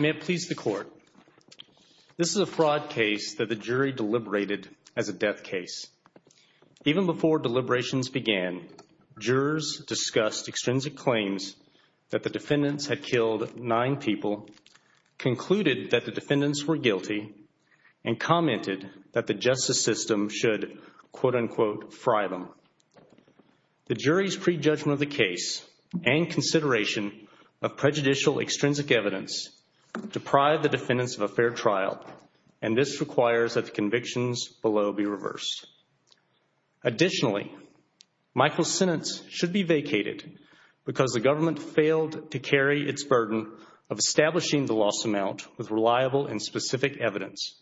May it please the court. This is a fraud case that the jury deliberated as a death case. Even before deliberations began, jurors discussed extrinsic claims that the defendants had killed nine people, concluded that the defendants were guilty, and commented that the justice system should, quote unquote, fry them. The jury's prejudgment of the case and consideration of prejudicial extrinsic evidence deprive the defendants of a fair trial, and this requires that the convictions below be reversed. Additionally, Michael's sentence should be vacated because the government failed to carry its burden of establishing the loss amount with reliable and specific evidence.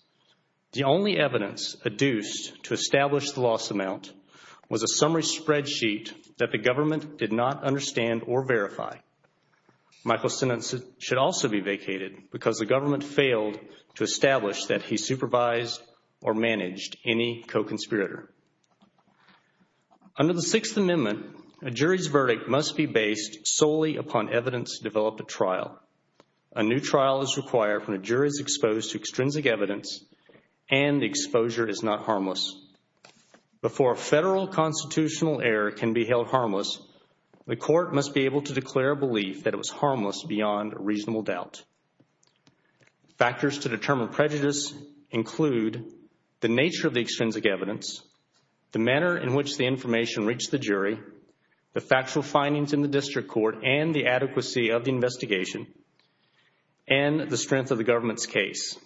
The only evidence adduced to establish the loss amount was a summary spreadsheet that the government did not understand or verify. Michael's sentence should also be vacated because the government failed to establish that he supervised or managed any co-conspirator. Under the Sixth Amendment, a jury's verdict must be based solely upon evidence to develop a trial. A new trial is required when a jury is exposed to extrinsic evidence and the exposure is not harmless. Before a federal constitutional error can be held harmless, the court must be able to declare a belief that it was harmless beyond a reasonable doubt. Factors to determine prejudice include the nature of the extrinsic evidence, the manner in which the information reached the jury, the factual findings in the district court and the adequacy of the investigation, and the strength of the government's case.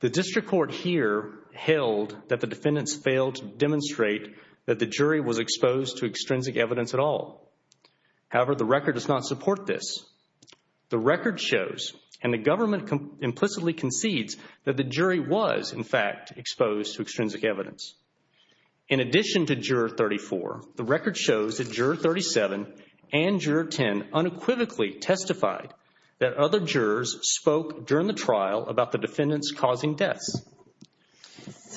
The district court here held that the defendants failed to demonstrate that the jury was exposed to extrinsic evidence at all. However, the record does not support this. The record shows, and the government implicitly concedes, that the jury was, in fact, exposed to extrinsic evidence. In addition to Juror 34, the record shows that Juror 37 and Juror 10 unequivocally testified that other jurors spoke during the trial about the defendants causing death.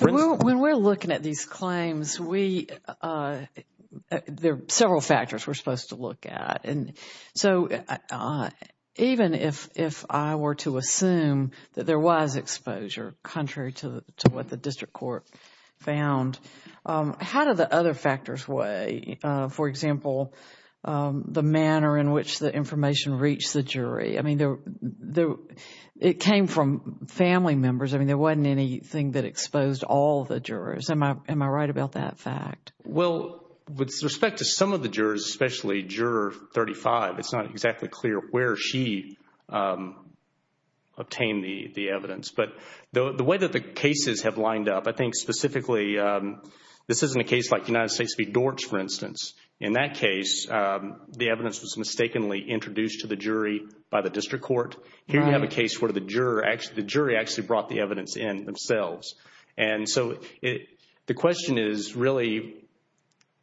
When we're looking at these claims, there are several factors we're supposed to look at. So, even if I were to assume that there was exposure, contrary to what the district court found, how do the other factors weigh? For example, the manner in which the information reached the jury. I mean, it came from family members. I mean, there wasn't anything that exposed all the jurors. Am I right about that fact? Well, with respect to some of the jurors, especially Juror 35, it's not exactly clear where she obtained the evidence. But the way that the cases have lined up, I think specifically, this isn't a case like United States v. Dorch, for instance. In that case, the evidence was mistakenly introduced to the jury by the district court. Here we have a case where the jury actually brought the evidence in themselves. And so, the question is really,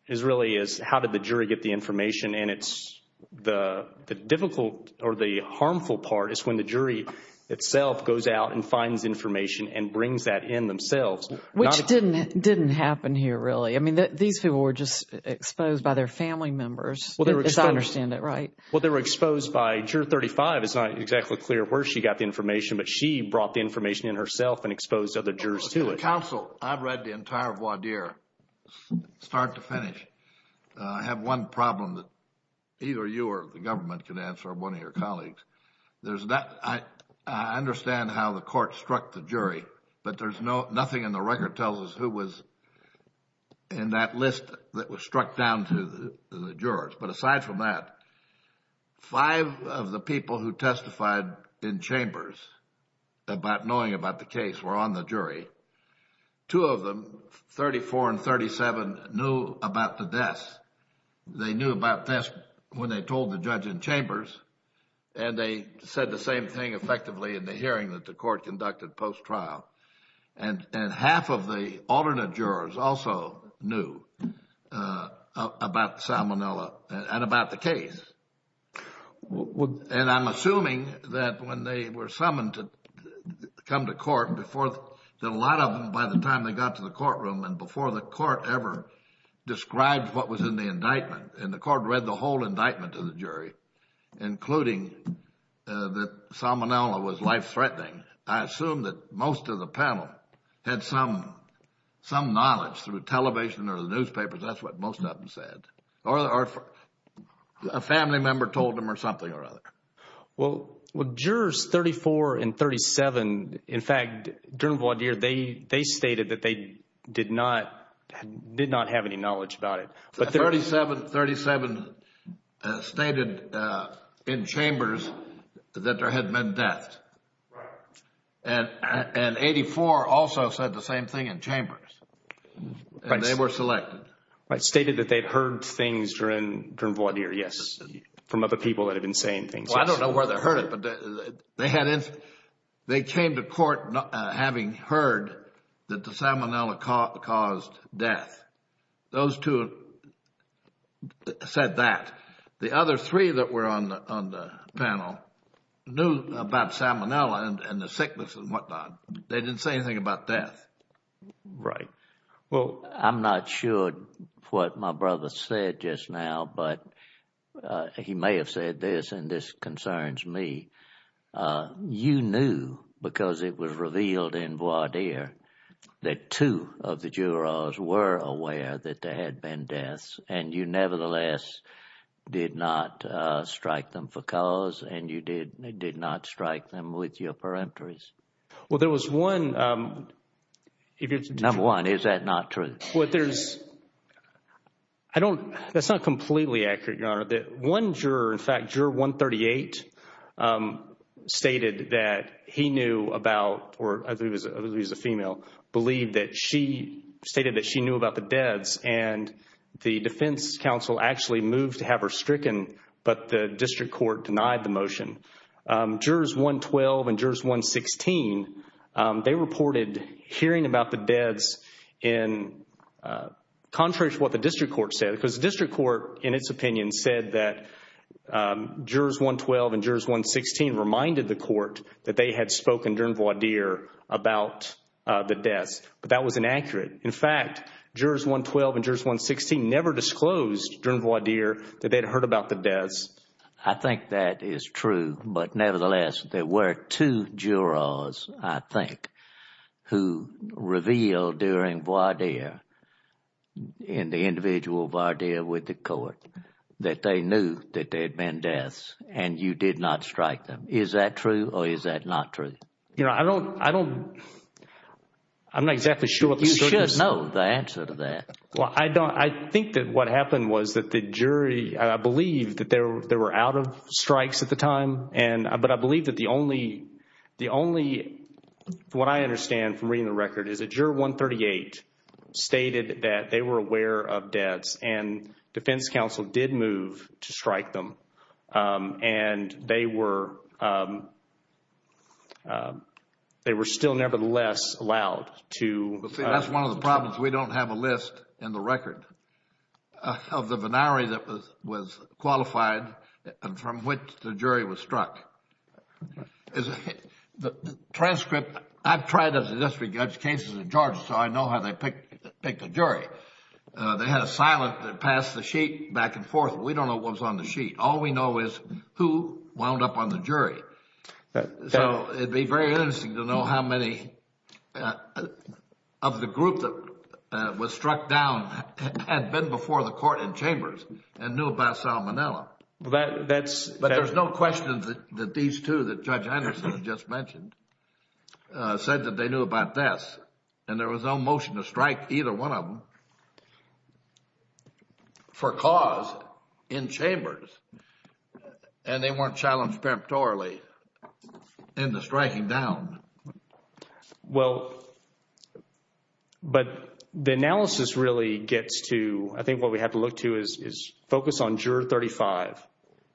is really, is how did the jury get the information? And it's the difficult or the harmful part is when the jury itself goes out and finds information and brings that in themselves. Which didn't happen here, really. I mean, these people were just exposed by their family members, as I understand it, right? Well, they were exposed by Juror 35. It's not exactly clear where she got the information. But she brought the information in herself and exposed other jurors to it. Counsel, I've read the entire voir dire, start to finish. I have one problem that either you or the government can answer, or one of your colleagues. I understand how the court struck the jury, but there's nothing in the record that tells us who was in that list that was struck down to the jurors. But aside from that, five of the people who testified in chambers about knowing about the case were on the jury. Two of them, 34 and 37, knew about the deaths. They knew about deaths when they told the judge in chambers, and they said the same thing effectively in the hearing that the court conducted post-trial. And half of the alternate jurors also knew about Salmonella and about the case. And I'm assuming that when they were summoned to come to court, that a lot of them, by the time they got to the courtroom and before the court ever described what was in the indictment, and the court read the whole indictment to the jury, including that Salmonella was life-threatening, I assume that most of the panel had some knowledge through television or the newspapers, that's what most of them said. Or a family member told them or something or other. Well, jurors 34 and 37, in fact, they stated that they did not have any knowledge about it. 37 stated in chambers that there had been death. And 84 also said the same thing in chambers. They were selected. But stated that they heard things during voir dire, yes, from other people that had been saying things. Well, I don't know where they heard it, but they came to court having heard that the Salmonella caused death. Those two said that. The other three that were on the panel knew about Salmonella and the sickness and whatnot. They didn't say anything about death. Right. Well, I'm not sure what my brother said just now, but he may have said this, and this concerns me. You knew, because it was revealed in voir dire, that two of the jurors were aware that there had been deaths, and you nevertheless did not strike them for cause, and you did not strike them with your peremptories. Well, there was one. Number one, is that not true? That's not completely accurate, Your Honor. One juror, in fact, juror 138, stated that he knew about, or I believe it was a female, believed that she stated that she knew about the deaths, and the defense counsel actually moved to have her stricken, but the district court denied the motion. Jurors 112 and jurors 116, they reported hearing about the deaths in contrast to what the district court said. The district court, in its opinion, said that jurors 112 and jurors 116 reminded the court that they had spoken during voir dire about the deaths, but that was inaccurate. In fact, jurors 112 and jurors 116 never disclosed during voir dire that they had heard about the deaths. I think that is true, but nevertheless, there were two jurors, I think, who revealed during voir dire, in the individual voir dire with the court, that they knew that there had been deaths, and you did not strike them. Is that true, or is that not true? You know, I don't, I don't, I'm not exactly sure. You should know the answer to that. Well, I don't, I think that what happened was that the jury believed that they were out of What I understand from reading the record is that juror 138 stated that they were aware of deaths, and defense counsel did move to strike them, and they were, they were still nevertheless allowed to That's one of the problems, we don't have a list in the record of the binary that was qualified and from which the jury was struck. The transcript, I've tried the district judge cases in Georgia, so I know how they pick the jury. They had a silence that passed the sheet back and forth, but we don't know what was on the sheet. All we know is who wound up on the jury. So it'd be very interesting to know how many of the group that was struck down had been before the court in chambers and knew about Salmonella. But that's But there's no question that these two that Judge Anderson just mentioned said that they knew about deaths, and there was no motion to strike either one of them for cause in chambers, and they weren't challenged prematurely in the striking down. Well, but the analysis really gets to, I think what we have to look to is focus on juror 35.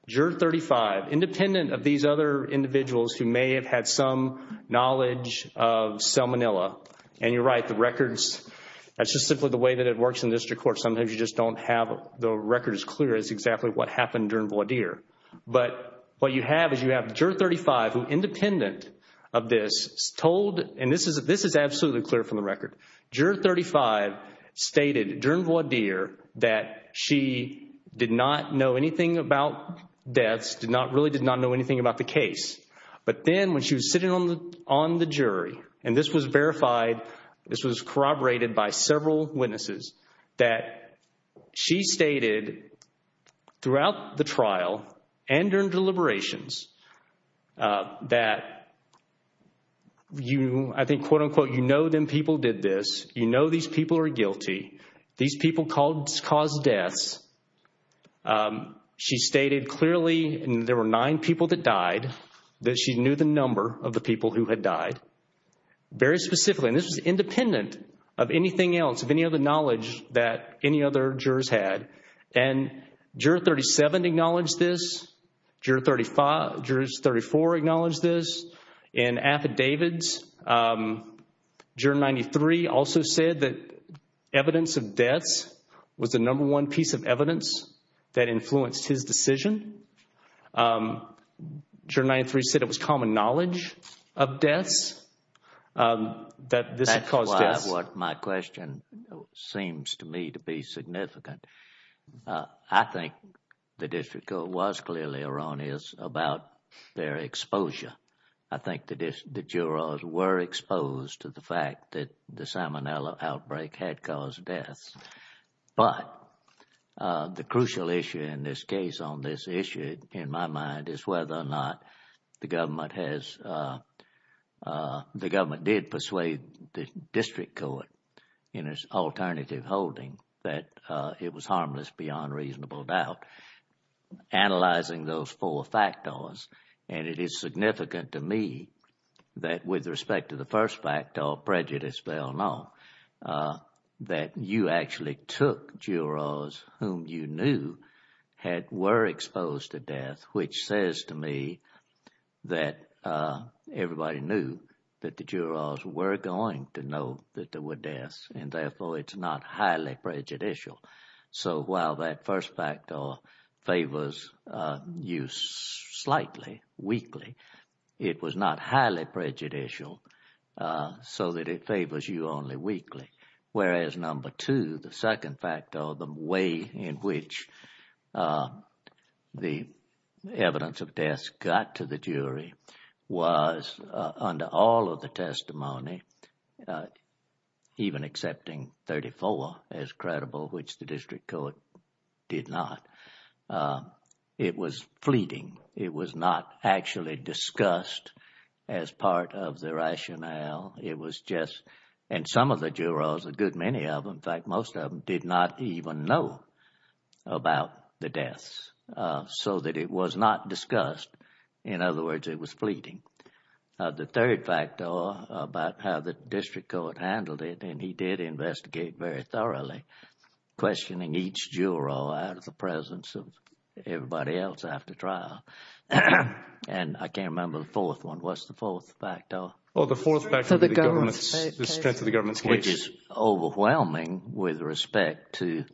Juror 35, independent of these other individuals who may have had some knowledge of Salmonella, and you're right, the records that's just simply the way that it works in the district court. Sometimes you just don't have the records clear as exactly what happened during Voidere. But what you have is you have juror 35 who independent of this told, and this is absolutely clear from the record, juror 35 stated during Voidere that she did not know anything about deaths, did not really did not know anything about the case. But then when she was sitting on the jury, and this was verified, this was corroborated by several witnesses, that she stated throughout the trial and during deliberations that you, I think, quote unquote, you know them people did this, you know these people are guilty, these people caused deaths. She stated clearly, and there were nine people that died, that she knew the number of the people who had died. Very specifically, and this is independent of anything else, of any other knowledge that any other jurors had. And juror 37 acknowledged this, juror 34 acknowledged this, and affidavits. Juror 93 also said that evidence of deaths was the number one piece of evidence that influenced his decision. Juror 93 said it was common knowledge of deaths. That's why my question seems to me to be significant. I think the district court was clearly erroneous about their exposure. I think the jurors were exposed to the fact that the Salmonella outbreak had caused deaths. But the crucial issue in this case, on this issue in my mind, is whether or not the government has, the government did persuade the district court in its alternative holding, that it was harmless beyond reasonable doubt. Analyzing those four factors, and it is significant to me that with respect to the first factor of prejudice, that you actually took jurors whom you knew were exposed to death, which says to me that everybody knew that the jurors were going to know that there were deaths, and therefore it's not highly prejudicial. So while that first factor favors you slightly, weakly, it was not highly prejudicial so that it favors you only weakly. Whereas number two, the second factor, the way in which the evidence of deaths got to the jury was under all of the testimony, uh, even accepting 34 as credible, which the district court did not. It was fleeting. It was not actually discussed as part of the rationale. It was just, and some of the jurors, a good many of them, in fact most of them, did not even know about the deaths so that it was not discussed. In other words, it was fleeting. The third factor about how the district court handled it, and he did investigate very thoroughly, questioning each juror out of the presence of everybody else after trial. And I can't remember the fourth one. What's the fourth factor? Well, the fourth factor is the strength of the government. Which is overwhelming with respect to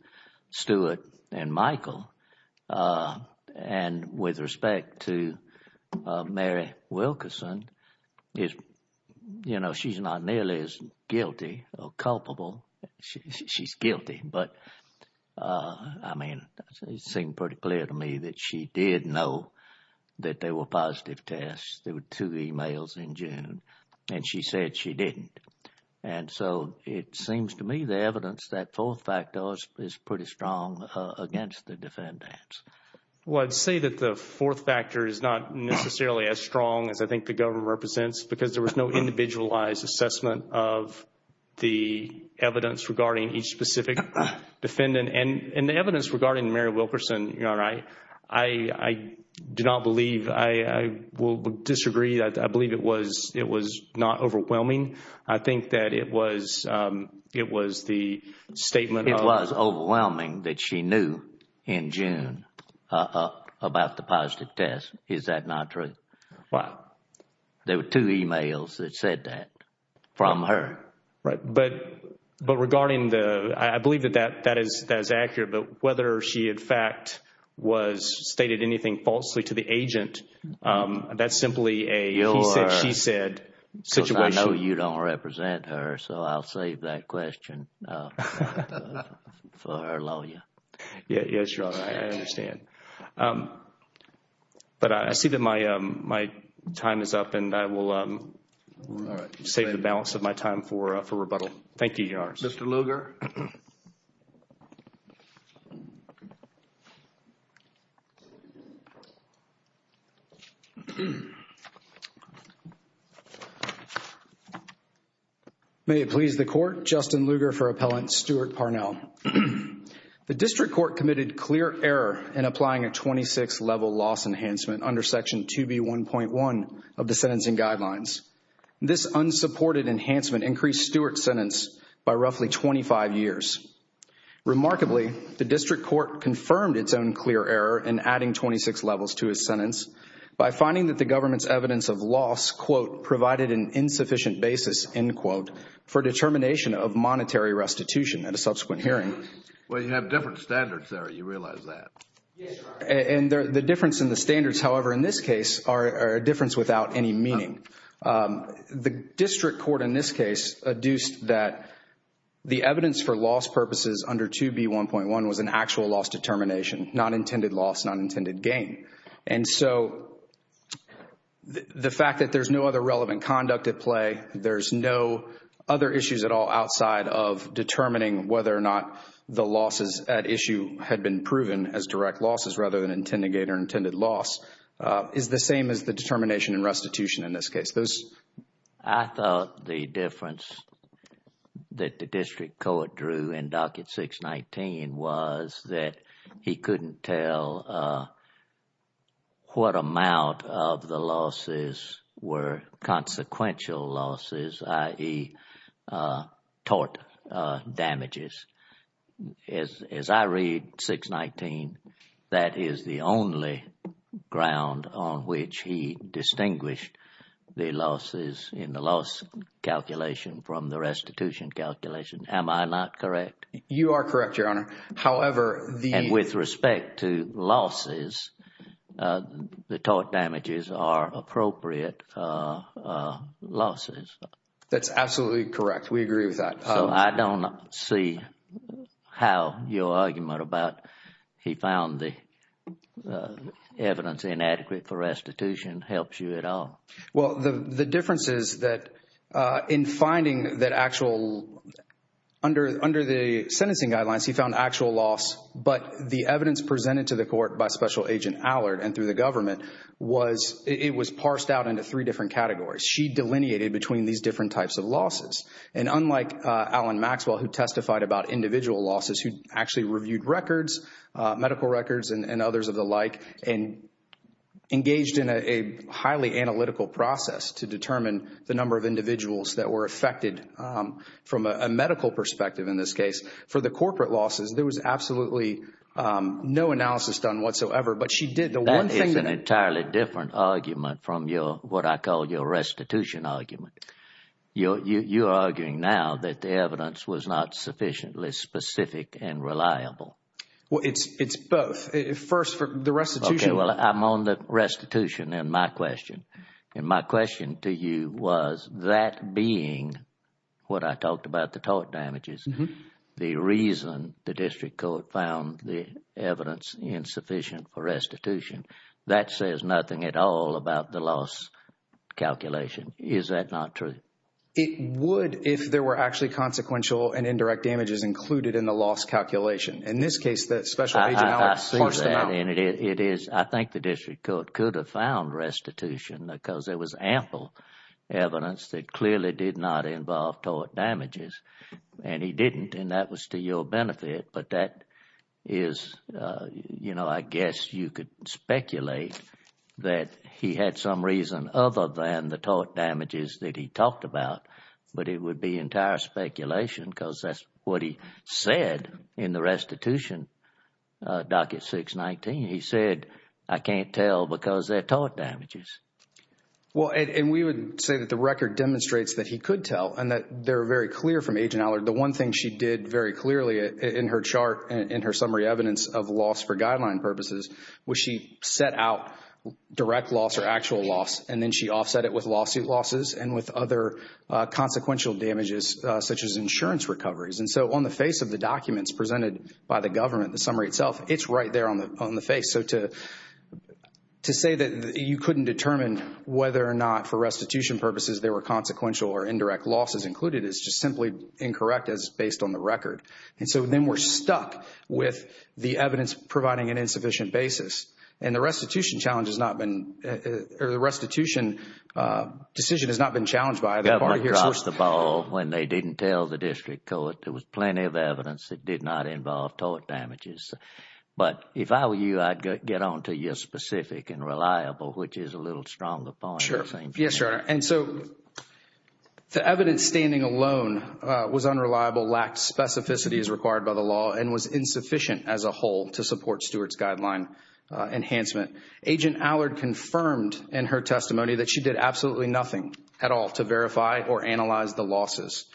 Stuart and Michael, uh, and with respect to Mary Wilkerson. You know, she's not nearly as guilty or culpable. She's guilty. But, uh, I mean, it seemed pretty clear to me that she did know that there were positive tests. There were two emails in June and she said she didn't. And so it seems to me the evidence that fourth factor is pretty strong against the defendants. Well, I'd say that the fourth factor is not necessarily as strong as I think the government represents because there was no individualized assessment of the evidence regarding each specific defendant. And the evidence regarding Mary Wilkerson, you know, I do not believe, I will disagree. I believe it was not overwhelming. I think that it was, um, it was the statement. It was overwhelming that she knew in June about the positive test. Is that not true? Wow. There were two emails that said that from her. Right. But, but regarding the, I believe that that is, that is accurate. But whether she, in fact, was stated anything falsely to the agent, um, that's simply a he said, she said. I know you don't represent her, so I'll save that question for her lawyer. Yeah. Yes, your honor. I understand. Um, but I see that my, um, my time is up and I will, um, save the balance of my time for, uh, for rebuttal. Thank you. Mr. Lugar. May it please the court, Justin Lugar for appellant Stuart Parnell. The district court committed clear error in applying a 26 level loss enhancement under section 2B1.1 of the sentencing guidelines. This unsupported enhancement increased Stuart's by roughly 25 years. Remarkably, the district court confirmed its own clear error in adding 26 levels to his sentence by finding that the government's evidence of loss, quote, provided an insufficient basis, end quote, for determination of monetary restitution at a subsequent hearing. Well, you have different standards there. You realize that? And the difference in the standards, however, in this case are a difference without any meaning. Um, the district court in this case adduced that the evidence for loss purposes under 2B1.1 was an actual loss determination, not intended loss, not intended gain. And so, the fact that there's no other relevant conduct at play, there's no other issues at all outside of determining whether or not the losses at issue had been proven as direct losses rather than determination and restitution in this case. I thought the difference that the district court drew in docket 619 was that he couldn't tell what amount of the losses were consequential losses, i.e. tort damages. As I read 619, that is the only ground on which he distinguished the losses in the loss calculation from the restitution calculation. Am I not correct? You are correct, Your Honor. However, the- That's absolutely correct. We agree with that. I don't see how your argument about he found the evidence inadequate for restitution helps you at all. Well, the difference is that in finding that actual, under the sentencing guidelines, he found actual loss, but the evidence presented to the court by Special Agent Allard and through the government, it was parsed out into three different categories. She delineated between these different types of losses. And unlike Alan Maxwell, who testified about individual losses, who actually reviewed records, medical records and others of the like, and engaged in a highly analytical process to determine the number of individuals that were affected from a medical perspective in this case, for the corporate losses, there was absolutely no analysis done entirely different argument from your, what I call your restitution argument. You're arguing now that the evidence was not sufficiently specific and reliable. Well, it's both. First, the restitution- Okay, well, I'm on the restitution in my question. And my question to you was that being what I talked about, the tort damages, the reason the district court found the evidence insufficient for restitution, that says nothing at all about the loss calculation. Is that not true? It would if there were actually consequential and indirect damages included in the loss calculation. In this case, the Special Agent Allard- I've seen that. And it is, I think the district court could have found restitution because there was ample evidence that clearly did not involve tort damages. And he didn't, and that was to your you could speculate that he had some reason other than the tort damages that he talked about, but it would be entire speculation because that's what he said in the restitution docket 619. He said, I can't tell because they're tort damages. Well, and we would say that the record demonstrates that he could tell and that they're very clear from Agent Allard. The one thing she did very clearly in her chart and her summary evidence of loss for guideline purposes was she set out direct loss or actual loss and then she offset it with lawsuit losses and with other consequential damages such as insurance recoveries. And so on the face of the documents presented by the government, the summary itself, it's right there on the face. So to say that you couldn't determine whether or not for restitution purposes there were consequential or indirect losses included is just simply incorrect as based on the record. And so then we're stuck with the evidence providing an insufficient basis. And the restitution challenge has not been, or the restitution decision has not been challenged by the court here. First of all, when they didn't tell the district court, there was plenty of evidence that did not involve tort damages. But if I were you, I'd get on to your specific and reliable, which is a little stronger point. And so the evidence standing alone was unreliable, lacked specificity as required by the law, and was insufficient as a whole to support Stewart's guideline enhancement. Agent Allard confirmed in her testimony that she did absolutely nothing at all to verify or analyze the losses.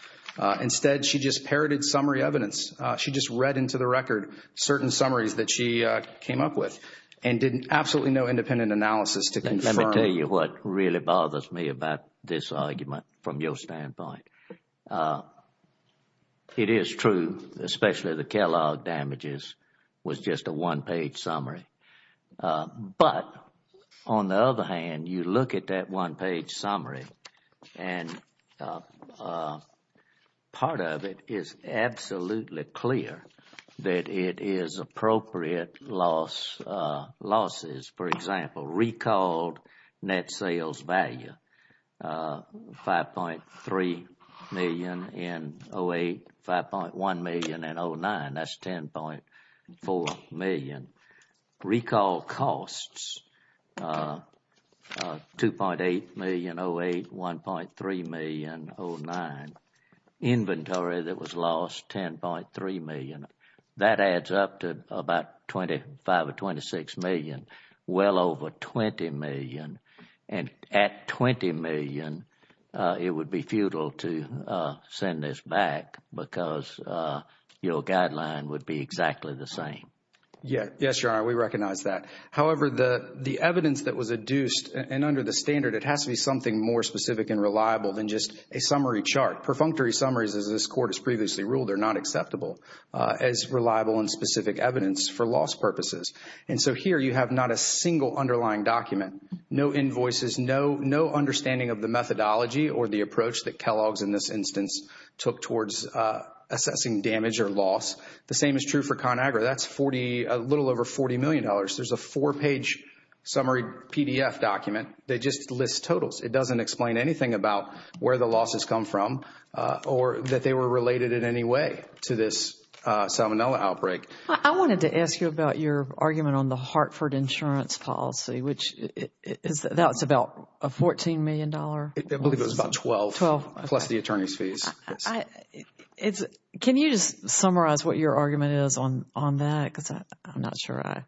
Instead, she just parroted summary evidence. She just read into the record certain summaries that she came up with and did absolutely no independent analysis to confirm. I'll tell you what really bothers me about this argument from your standpoint. It is true, especially the Kellogg damages was just a one-page summary. But on the other hand, you look at that one-page summary and part of it is absolutely clear that it is appropriate losses. For example, recalled net sales value $5.3 million in 2008, $5.1 million in 2009, that's $10.4 million. Recalled costs $2.8 million in 2008, $1.3 million in 2009. Inventory that was lost, $10.3 million. That and at $20 million, it would be futile to send this back because your guideline would be exactly the same. Yes, we recognize that. However, the evidence that was adduced and under the standard, it has to be something more specific and reliable than just a summary chart. Perfunctory summaries, as this court has previously ruled, are not acceptable as reliable and specific evidence for loss purposes. Here, you have not a single underlying document, no invoices, no understanding of the methodology or the approach that Kellogg's in this instance took towards assessing damage or loss. The same is true for ConAgra. That's a little over $40 million. There's a four-page summary PDF document that just lists totals. It doesn't explain anything about where the loss has come from or that they were related in any way to this salmonella outbreak. I wanted to ask you about your argument on the Hartford insurance policy, which is about a $14 million. I believe it was about 12, plus the attorney's fees. Can you just summarize what your argument is on that? I'm not sure I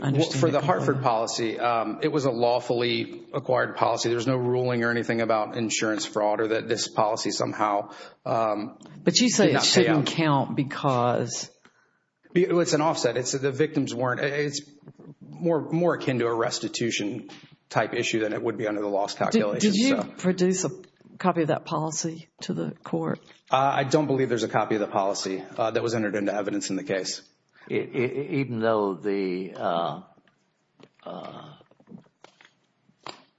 understand. For the Hartford policy, it was a lawfully acquired policy. There's no ruling or anything about insurance fraud or that this policy somehow did not pay off. But you say it didn't count because... It was an offset. It's more akin to a restitution-type issue than it would be under the loss calculation. Did you produce a copy of that policy to the court? I don't believe there's a copy of the policy that was entered into evidence in the case. Even though the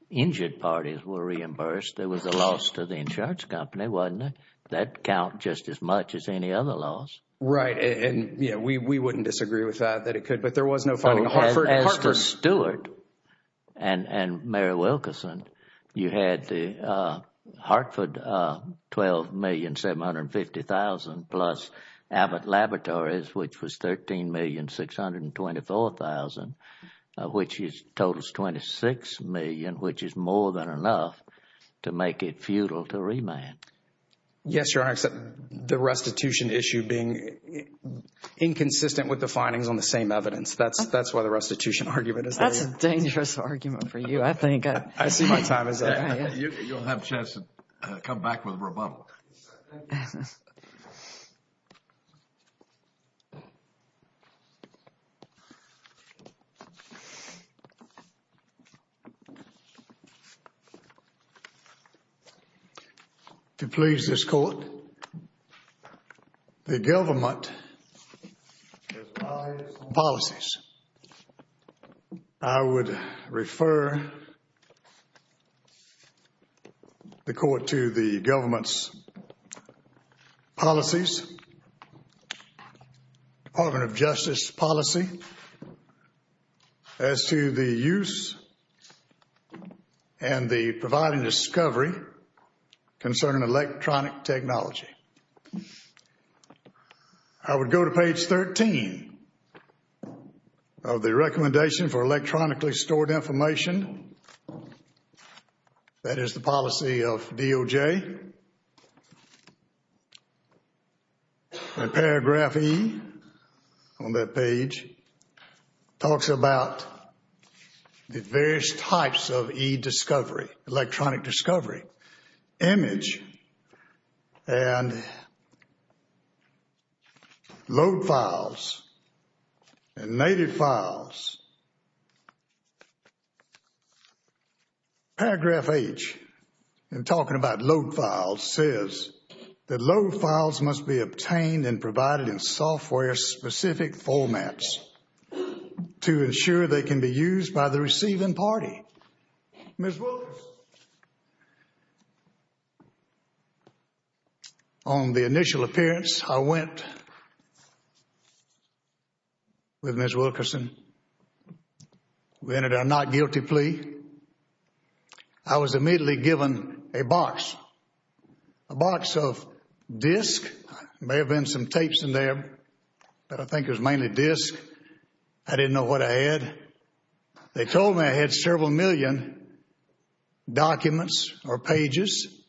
injured parties were reimbursed, there was a loss to the insurance company, wasn't it? That counts just as much as any other loss. Right. We wouldn't disagree with that, that it could, but there was no... As the steward and Mayor Wilkerson, you had the Hartford $12,750,000 plus Abbott Laboratories, which was $13,624,000, which totals $26 million, which is more than enough to make it futile to remand. Yes, Your Honor. The restitution issue being inconsistent with the findings on the same evidence. That's why the restitution argument is... That's a dangerous argument for you. I see my time is up. You'll have a chance to come back with rebuttal. Second. To please this court, the government... I would refer the court to the government's policies, the Department of Justice's policy as to the use and the providing discovery concerning electronic technology. I would go to page 13 of the recommendation for electronically stored information that is the policy of DOJ. The paragraph E on that page talks about the various types of E discovery, electronic discovery, image, and load files, and native files. Paragraph H, in talking about load files, says that load files must be obtained and provided in software-specific formats to ensure they can be used by the receiving party. Ms. Wilkerson, on the initial appearance, I went with Ms. Wilkerson. We entered our not guilty plea. I was immediately given a box, a box of disk. There may have been some tapes in there, but I think it was mainly disk. I didn't know what I had. They told me I had several million documents or pages.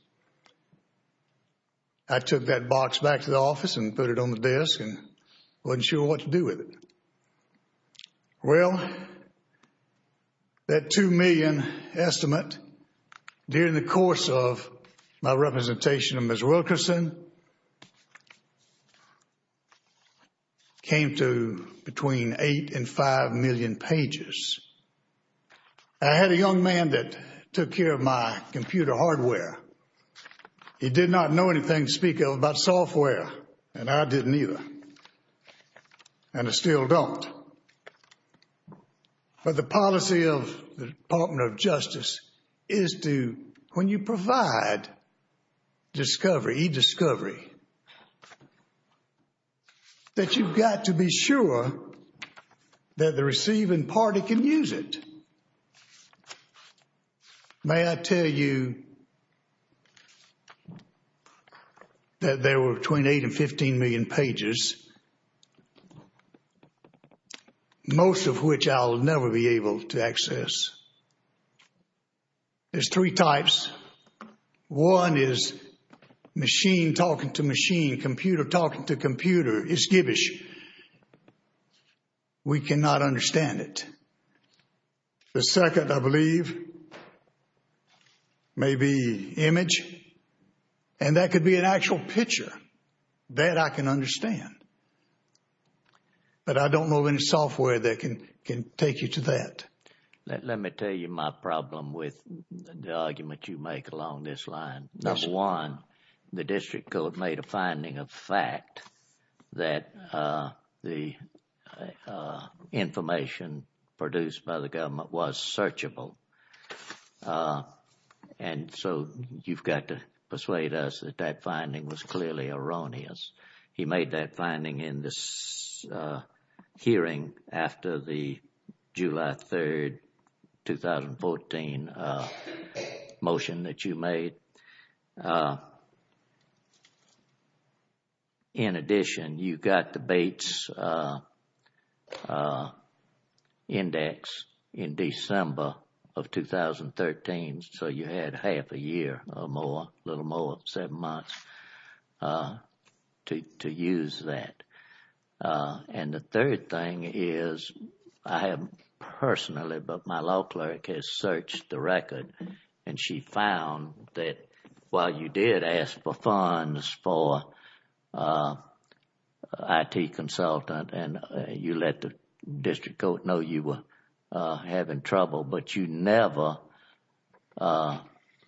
I took that box back to the office and put it on the disk and wasn't sure what to do with it. Well, that two million estimate during the course of my representation of Ms. Wilkerson came to between eight and five million pages. I had a young man that took care of my computer hardware. He did not know anything, to speak of, about software, and I didn't either, and I still don't. But the policy of the Department of Justice is to, when you provide discovery, e-discovery, that you've got to be sure that the receiving party can use it. May I tell you that there were between eight and 15 million pages, most of which I'll never be able to access. There's three types. One is machine talking to machine, computer talking to computer. It's a tool, maybe image, and that could be an actual picture. That I can understand, but I don't know any software that can take you to that. Let me tell you my problem with the argument you make along this line. Number one, the district court made a finding of fact that the information produced by the government was unsearchable, and so you've got to persuade us that that finding was clearly erroneous. He made that finding in this hearing after the July 3, 2014, motion that you made. In addition, you got the Bates Index in December of 2013, so you had half a year or more, a little more than seven months to use that. And the third thing is, I haven't personally, but my law clerk has searched the while you did ask for funds for an IT consultant, and you let the district court know you were having trouble, but you never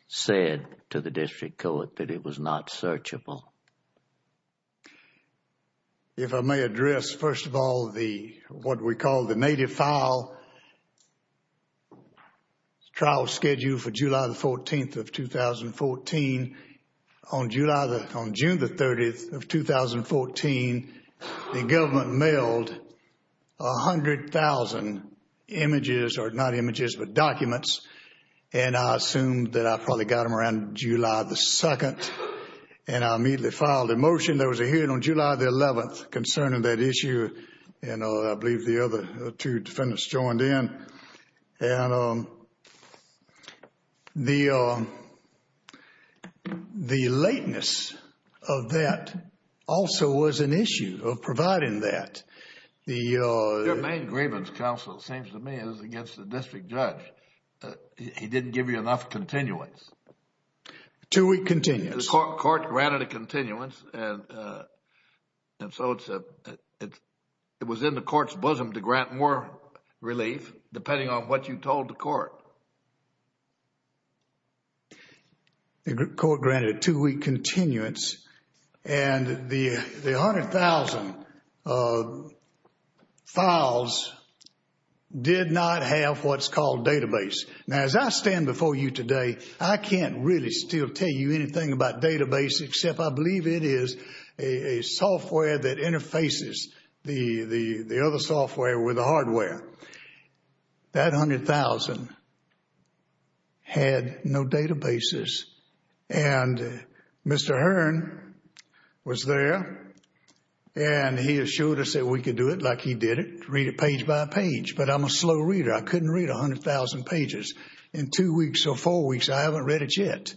said to the district court that it was not searchable. If I may address, first of all, what we call the native file trial schedule for July the 14th of 2014. On June the 30th of 2014, the government mailed 100,000 images, or not images, but documents, and I assumed that I probably got them around July the 2nd, and I immediately filed a motion. There was a hearing on July the 11th concerning that issue, and I believe the other two defendants joined in. The lateness of that also was an issue of providing that. The main grievance counsel, it seems to me, is against the district judge. He didn't give you enough continuance. Two-week continuance. Court granted a continuance, and so it was in the court's bosom to grant more relief, depending on what you told the court. The court granted a two-week continuance, and the 100,000 files did not have what's called database. Now, as I stand before you today, I can't really still tell you anything about database, except I believe it is a software that interfaces the other software with the hardware. That 100,000 had no databases, and Mr. Hearn was there, and he assured us that we could do it like he did it, read it page by page, but I'm a slow reader. I couldn't read 100,000 pages in two weeks or four weeks. I haven't read it yet,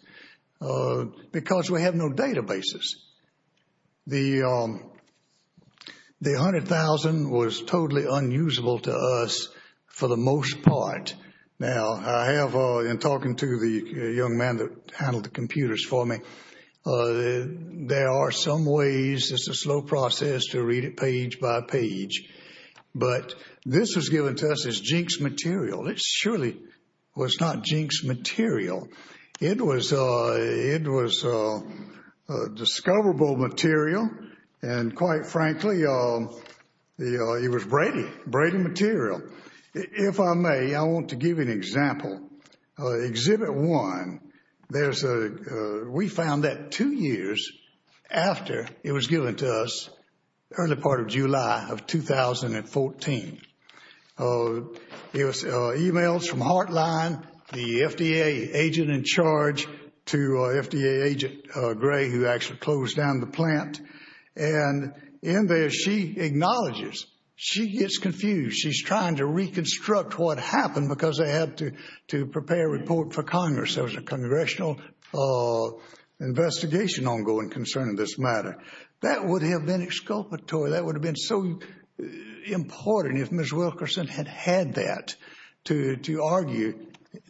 because we have no databases. The 100,000 was totally unusable to us for the most part. Now, I have, in talking to the young man that handled the computers for me, there are some ways, it's a slow process to read it page by page, but this was given to us as jinxed material. It surely was not jinxed material. It was discoverable material, and quite frankly, it was braided material. If I may, I want to give you an example. Exhibit one, we found that two years after it was given to us, early part of July of 2014, there was emails from Heartline, the FDA agent in charge to FDA agent Gray, who actually closed down the plant, and in there, she acknowledges, she gets confused. She's trying to reconstruct what happened because they had to prepare a report for Congress. There was a congressional investigation ongoing concerning this matter. That would have been exculpatory. That would have been so important if Ms. Wilkerson had had that to argue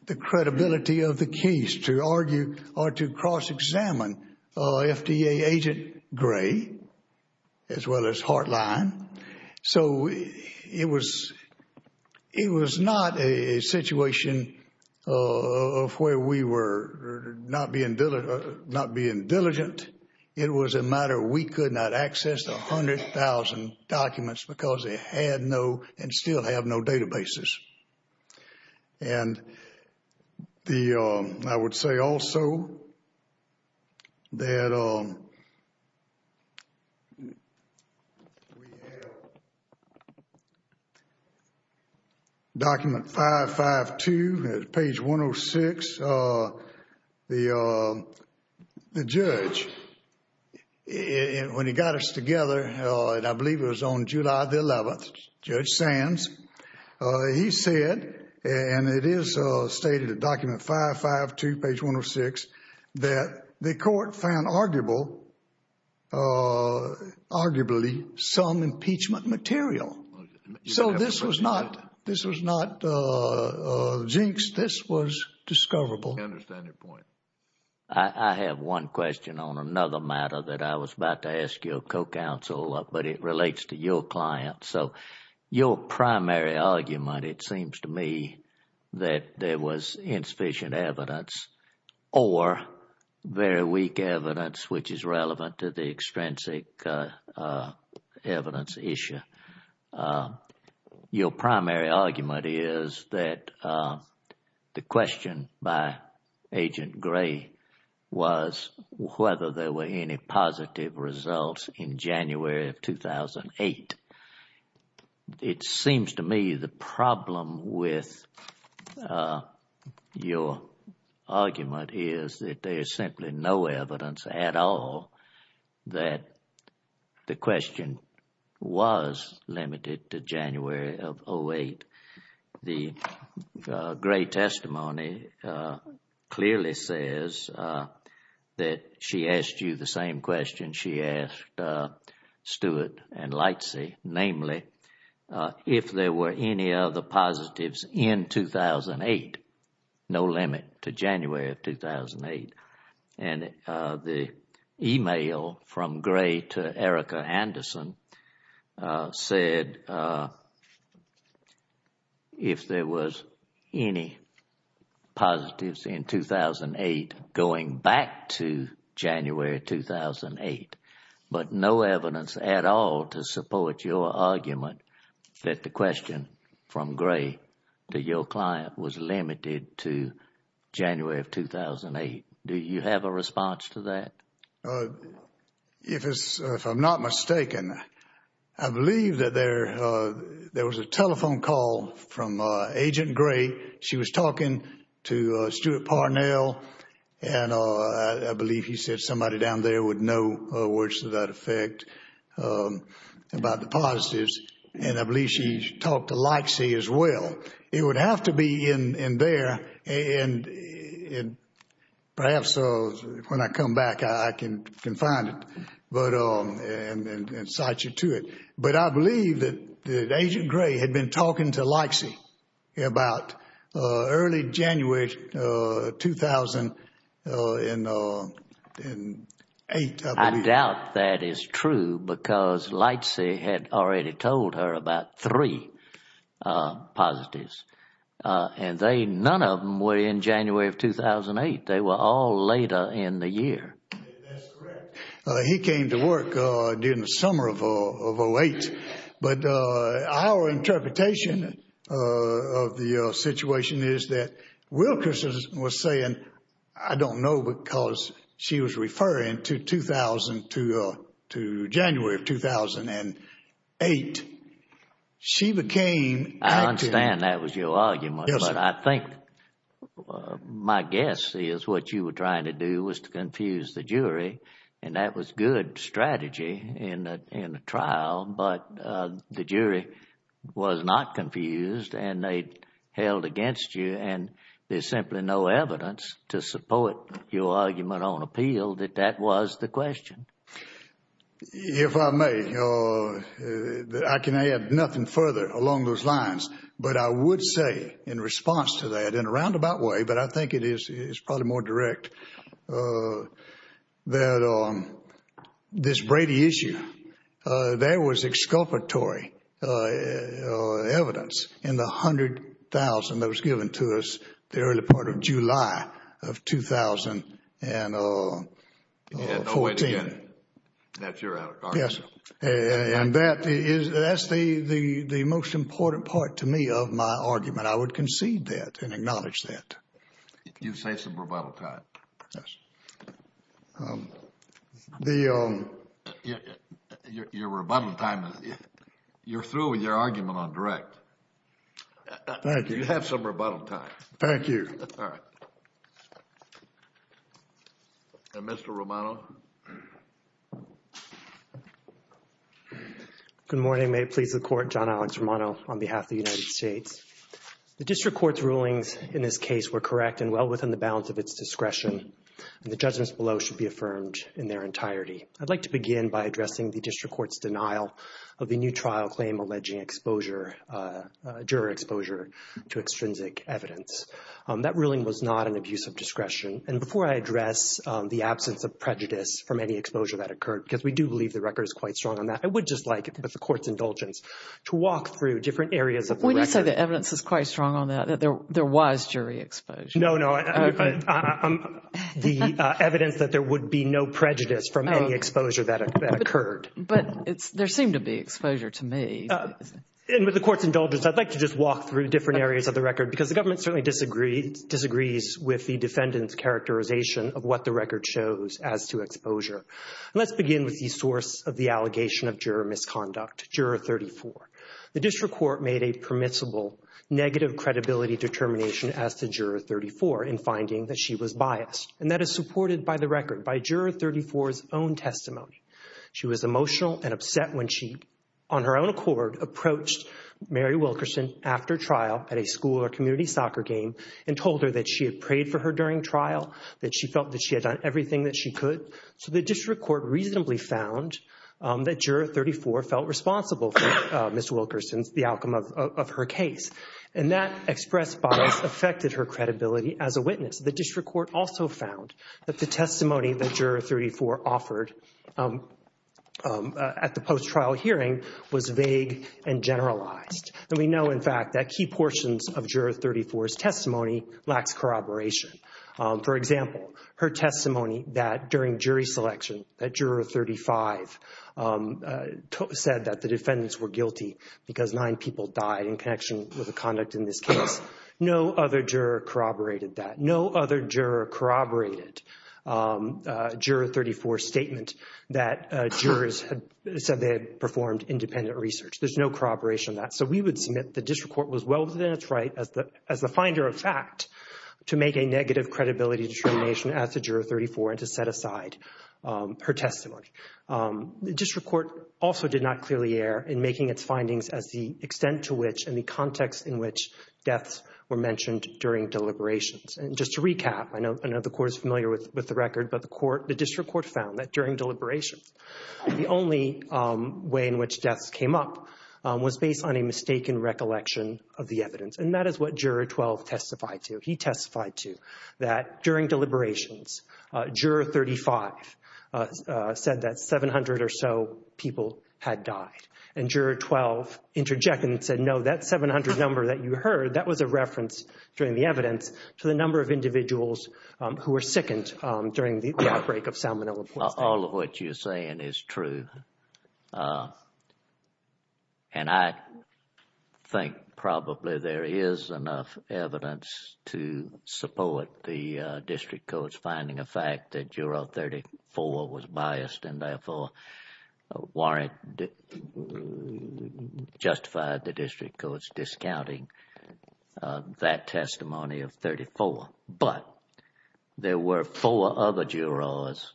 the credibility of the case, to argue or to cross-examine FDA agent Gray, as well as Heartline. It was not a situation of where we were not being diligent. It was a matter we could not access the 100,000 documents because they had no and still have no databases. I would say also that we have document 552, page 106. The judge, when he got us together, I believe it was on July 11th, Judge Sands, he said, and it is stated in document 552, page 106, that the court found arguable some impeachment material. This was not jinx. This was discoverable. I understand your point. I have one question on another matter that I was about to ask your co-counsel, but it relates to your client. Your primary argument, it seems to me, that there was insufficient evidence or very weak evidence, which is relevant to the extrinsic evidence issue. Your primary argument is that the question by agent Gray was whether there were any positive results in January of 2008. It seems to me the problem with your argument is that there is simply no evidence at all that the question was limited to January of 2008. The Gray testimony clearly says that she asked you the same question she asked Stewart and Lightsey, namely, if there were any other positives in 2008, no limit to January of 2008. The email from Gray to Erica Anderson said if there was any positives in 2008 going back to 2008, there was no evidence at all to support your argument that the question from Gray to your client was limited to January of 2008. Do you have a response to that? If I'm not mistaken, I believe that there was a telephone call from Agent Gray. She was talking to Stewart Parnell. I believe he said somebody down there would know words to that effect about the positives. I believe she talked to Lightsey as well. It would have to be in there. Perhaps when I come back, I can find it and cite you to it. I believe that Agent Gray had been January 2008. I doubt that is true because Lightsey had already told her about three positives. None of them were in January of 2008. They were all later in the year. That's correct. He came to work in the summer of 2008. Our interpretation of the situation is that Wilkerson was saying, I don't know, because she was referring to January of 2008. She became... I understand that was your argument. I think my guess is what you were trying to do was to confuse the jury. That was good strategy in the trial, but the jury was not confused. They held against you. There's simply no evidence to support your argument on appeal that that was the question. If I may, I can add nothing further along those lines. I would say in response to that, I think it is probably more direct that this Brady issue, there was exculpatory evidence in the $100,000 that was given to us in the early part of July of 2014. That's the most important part to me of my argument. I would concede that and acknowledge that. You say some rebuttal time. You're through with your argument on direct. Thank you. You had some rebuttal time. Thank you. Mr. Romano. Good morning. May it please the court, John Alex Romano on behalf of the United States. The district court's rulings in this case were correct and well within the bounds of its discretion. The judgments below should be affirmed in their entirety. I'd like to begin by addressing the district court's denial of the new trial claim alleging juror exposure to extrinsic evidence. That ruling was not an abuse of discretion. Before I address the absence of prejudice from any exposure that occurred, because we do believe the record is quite strong on that, I would just like, with the court's indulgence, to walk through different areas of the record. We do say the evidence is quite strong on that, that there was jury exposure. No, no. The evidence that there would be no prejudice from any exposure that occurred. But there seemed to be exposure to me. And with the court's indulgence, I'd like to just walk through different areas of the record, because the government certainly disagrees with the defendant's characterization of what the record shows as to exposure. Let's begin with the source of the allegation of juror misconduct, Juror 34. The district court made a permissible negative credibility determination as to Juror 34 in finding that she was biased. And that is supported by the record, by Juror 34's own testimony. She was emotional and upset when she, on her own accord, approached Mary Wilkerson after trial at a school or community soccer game and told her that she had prayed for her during trial, that she felt that she had done everything that she could. So the district court reasonably found that Juror 34 felt responsible for Ms. Wilkerson's, the outcome of her case. And that expressed bias affected her credibility as a witness. The district court also found that the testimony that Juror 34 offered at the post-trial hearing was vague and generalized. And we know, in fact, that key portions of Juror 34's testimony lacked corroboration. For example, her testimony that during jury selection that Juror 35 said that the defendants were guilty because nine people died in connection with the conduct in this case. No other juror corroborated that. No other juror corroborated Juror 34's statement that jurors said they had performed independent research. There's no corroboration of that. So we would submit the district court was well-advised, right, as the finder of fact to make a negative credibility determination at the Juror 34 and to set aside her testimony. The district court also did not clearly err in making its findings at the extent to which and the context in which deaths were mentioned during deliberations. And just to recap, I know the court is familiar with the record, but the district court found that during deliberations, the only way in which deaths came up was based on a mistaken recollection of the Juror 12 testified to. He testified to that during deliberations, Juror 35 said that 700 or so people had died. And Juror 12 interjected and said, no, that 700 number that you heard, that was a reference during the evidence to the number of individuals who were sickened during the outbreak of San Bernardino. All of what you're saying is true. And I think probably there is enough evidence to support the district courts finding a fact that Juror 34 was biased and therefore warrant justified the district courts discounting that testimony of 34. But there were four other jurors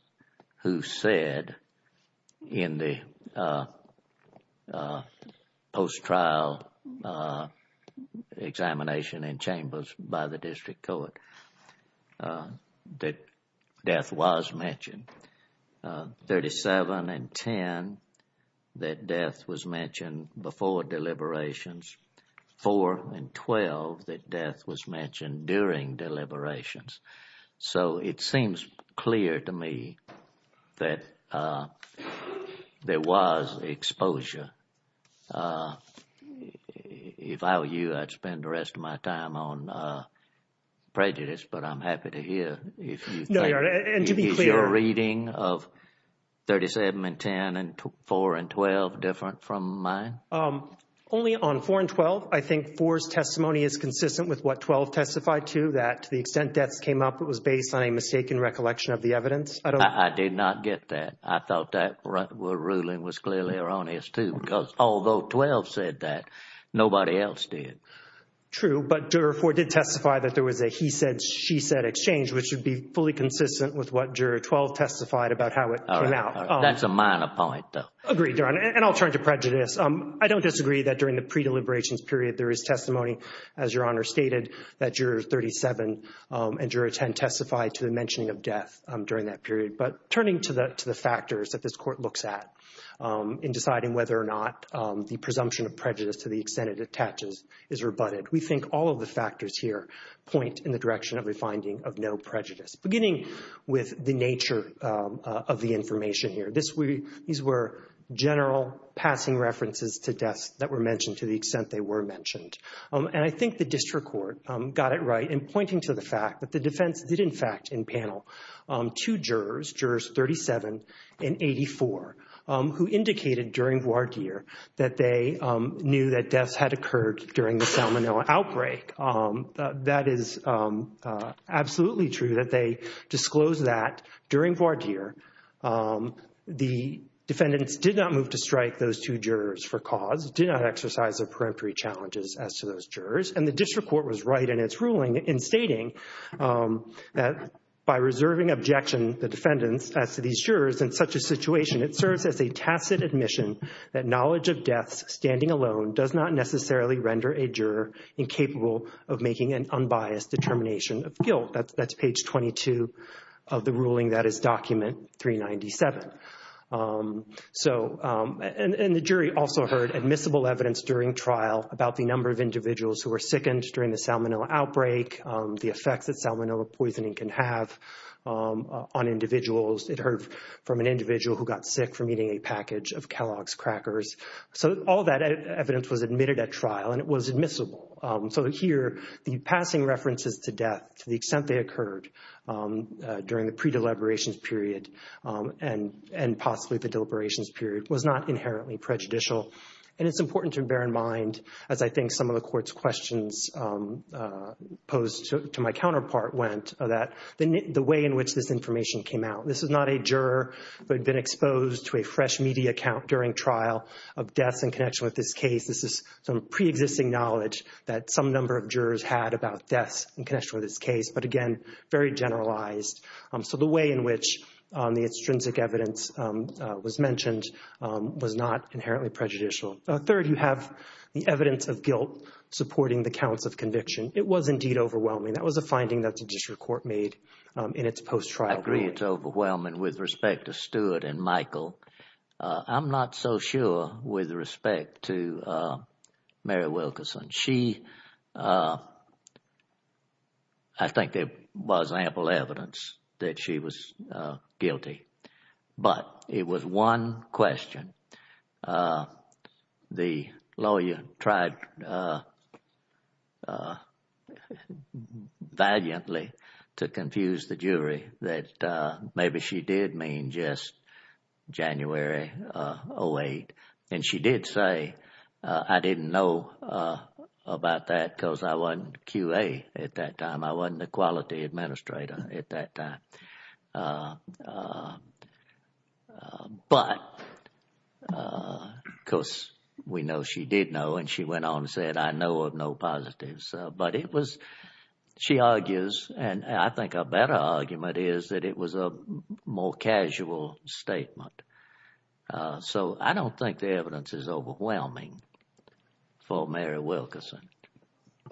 who said in the post-trial examination and chambers by the district court that death was mentioned. 37 and 10, that death was mentioned before deliberations. Four and 12, that death was mentioned during deliberations. So it seems clear to me that there was exposure. If I were you, I'd spend the rest of my time on prejudice, but I'm happy to know. Is your reading of 37 and 10 and four and 12 different from mine? Only on four and 12. I think four's testimony is consistent with what 12 testified to, that to the extent death came up, it was based on a mistaken recollection of the evidence. I did not get that. I thought that ruling was clearly erroneous too, because although 12 said that, nobody else did. True, but Juror 4 did testify that there was a he said, exchange, which should be fully consistent with what Juror 12 testified about how it came out. That's a minor point though. Agreed, Your Honor, and I'll turn to prejudice. I don't disagree that during the pre-deliberations period, there is testimony, as Your Honor stated, that Jurors 37 and Juror 10 testified to the mentioning of death during that period. But turning to the factors that this court looks at in deciding whether or not the presumption of prejudice to the extent it attaches is rebutted. We think all of the factors here point in the direction of refining of no prejudice, beginning with the nature of the information here. These were general passing references to death that were mentioned to the extent they were mentioned. I think the district court got it right in pointing to the fact that the defense did in fact in panel two jurors, Jurors 37 and 84, who indicated during voir dire that they knew that death had occurred during the Salmonella outbreak. That is absolutely true that they disclosed that during voir dire. The defendants did not move to strike those two jurors for cause, did not exercise their preemptory challenges as to those jurors, and the district court was right in its ruling in stating that by reserving objection the defendants passed to these jurors in such a situation, it serves as a tacit admission that knowledge of death standing alone does not necessarily render a juror incapable of making an unbiased determination of guilt. That is page 22 of the ruling that is document 397. And the jury also heard admissible evidence during trial about the number of individuals who were sickened during the Salmonella outbreak, the effect that Salmonella poisoning can have on individuals. It heard from an individual who got sick from eating a package of Kellogg's crackers. So all that evidence was admitted at trial and it was admissible. So here the passing references to death to the extent they occurred during the pre-deliberations period and possibly the deliberations period was not inherently prejudicial. And it is important to bear in mind, as I think some of the court's questions posed to my counterpart went, that the way in which this information came out. This is not a juror who had been exposed to a fresh media account during trial of death in connection with this case. This is some pre-existing knowledge that some number of jurors had about death in connection with this case, but again very generalized. So the way in which the extrinsic evidence was mentioned was not inherently prejudicial. Third, you have the evidence of guilt supporting the counts of conviction. It was indeed overwhelming. That was a finding that the district court made in its post-trial. I agree it's overwhelming with respect to Stuart and Michael. I'm not so sure with respect to Mary Wilkerson. She, I think there was ample evidence that she was guilty, but it was one question. The lawyer tried valiantly to confuse the jury that maybe she did mean just January 08. And she did say, I didn't know about that because I wasn't QA at that time. I wasn't the quality administrator at that time. But of course, we know she did know and she went on and said, I know of no positives. But it was, she argues, and I think a better argument is that it was a more casual statement. So I don't think the evidence is overwhelming for Mary Wilkerson.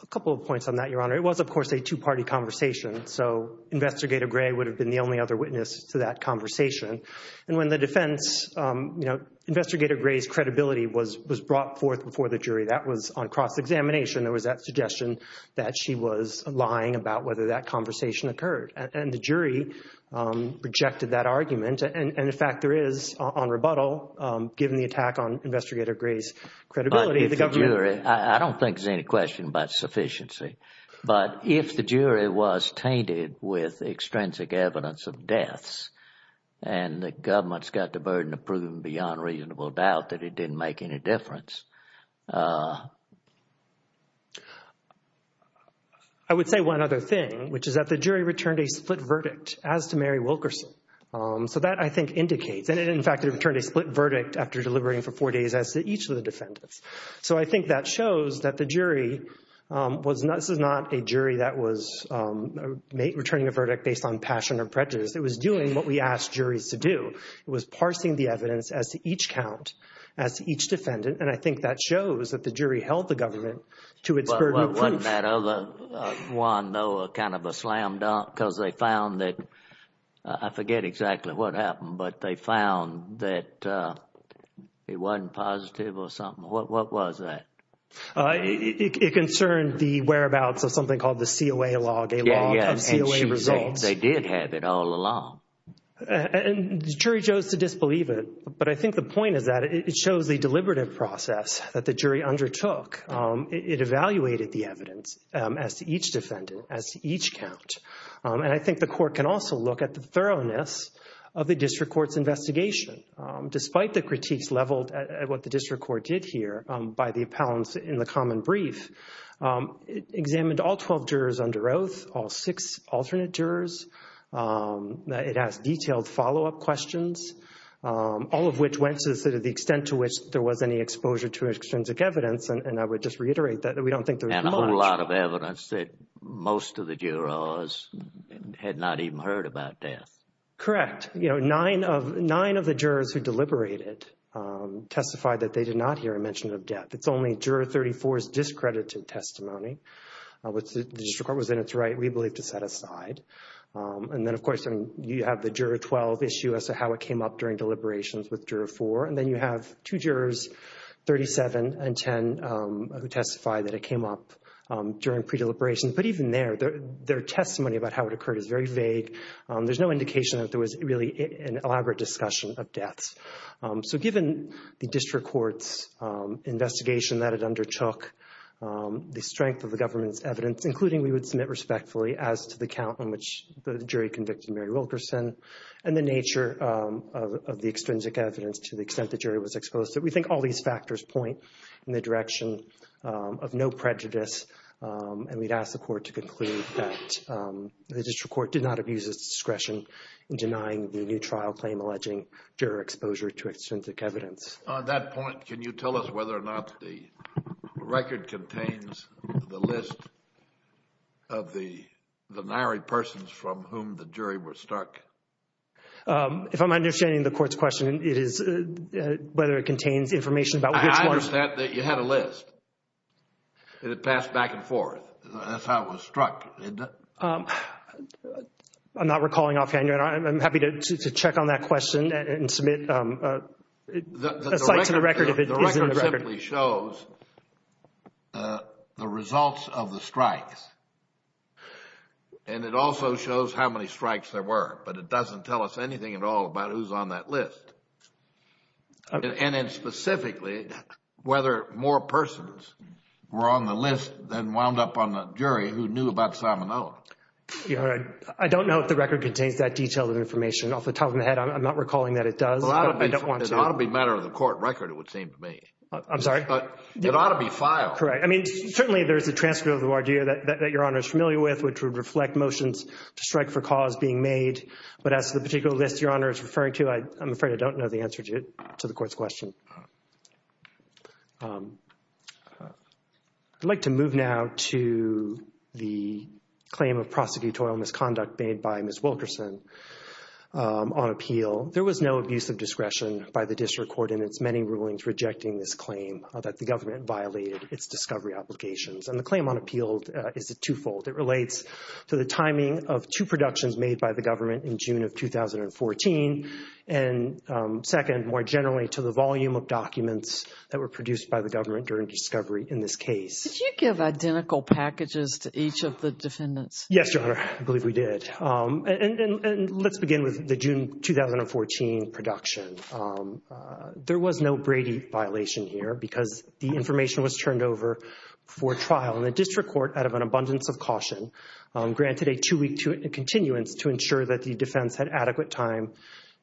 A couple of points on that, Your Honor. It was, of course, a two-party conversation. So Investigator Gray would have been the only other witness to that conversation. And when the defense, you know, Investigator Gray's credibility was brought forth before the jury. That was on cross-examination. There was that suggestion that she was lying about whether that conversation occurred. And the jury rejected that argument. And in fact, there is on rebuttal, given the attack on Investigator Gray's credibility. But if the jury, I don't think there's any question about sufficiency. But if the jury was tainted with extrinsic evidence of deaths and the government's got the burden of proving beyond reasonable doubt that it didn't make any difference. I would say one other thing, which is that the jury returned a split verdict as to Mary Wilkerson. So that, I think, indicates that, in fact, they returned a split verdict after delivering for four days as to each of the defendants. So I think that shows that the jury was not a jury that was returning a verdict based on passion or prejudice. It was doing what we asked juries to do. It was parsing the evidence as to each count, as to each defendant. And I think that shows that the jury held the government to its burden of proof. Wasn't that other one, though, kind of a slam dunk? Because they found that, I forget exactly what happened, but they found that it wasn't positive or something. What was that? It concerned the whereabouts of something called the COA log. Yeah, yeah. And they did have it all along. And the jury chose to disbelieve it. But I think the point of that, it shows the deliberative process that the jury undertook. It evaluated the evidence as to each defendant, as to each count. And I think the court can also look at the thoroughness of the district court's investigation. Despite the critiques leveled at what the district court did here by the appellants in the common brief, it examined all 12 jurors under oath, all six alternate jurors. It asked detailed follow-up questions, all of which went to the extent to which there was any exposure to extrinsic evidence. And I would just reiterate that we don't think there was much. And a whole lot of evidence that most of the jurors had not even heard about death. Correct. Nine of the jurors who deliberated testified that they did not hear a mention of death. It's only Juror 34's discredited testimony, which the district court was in its right, we believe, to set aside. And then, of course, you have the Juror 12 issue as to how it came up during deliberations with Juror 4. And then you have two jurors, 37 and 10, who testified that it came up during pre-deliberations. But even there, their testimony about how it occurred is very vague. There's no indication that there was really an elaborate discussion of death. So given the district court's investigation that it undertook, the strength of the government's evidence, including we would submit respectfully as to the count on which the jury convicted Mary Wilkerson, and the nature of the extrinsic evidence to the extent the jury was exposed to, we think all these factors point in the prejudice. And we'd ask the court to conclude that the district court did not abuse its discretion in denying the new trial claim alleging juror exposure to extrinsic evidence. On that point, can you tell us whether or not the record contains the list of the married persons from whom the jury was struck? If I'm understanding the court's question, it is whether it contains information about you had a list. It passed back and forth. That's how it was struck. I'm not recalling offhand. I'm happy to check on that question and submit a record of it. The record simply shows the results of the strikes. And it also shows how many strikes there were. But it doesn't tell us anything at all about who's on that list. And then specifically, whether more persons were on the list than wound up on the jury who knew about Simonella. You're right. I don't know if the record contains that detailed information. Also, top of my head, I'm not recalling that it does. Well, it ought to be a matter of the court record, it would seem to me. I'm sorry? It ought to be filed. Correct. I mean, certainly there's the transcript of the Wardeo that Your Honor is familiar with, which would reflect motions to strike for cause being made. But as to the particular list Your Honor, I don't know the answer to the court's question. I'd like to move now to the claim of prosecutorial misconduct made by Ms. Wilkerson on appeal. There was no abuse of discretion by the district court in its many rulings rejecting this claim that the government violated its discovery applications. And the claim on appeal is twofold. It relates to the timing of two productions made by the government in June of 2014. And second, more generally, to the volume of documents that were produced by the government during discovery in this case. Did you give identical packages to each of the defendants? Yes, Your Honor. I believe we did. And let's begin with the June 2014 production. There was no Brady violation here because the information was turned over for trial. And the district court, out of an abundance of caution, granted a two-week continuance to ensure that the defense had adequate time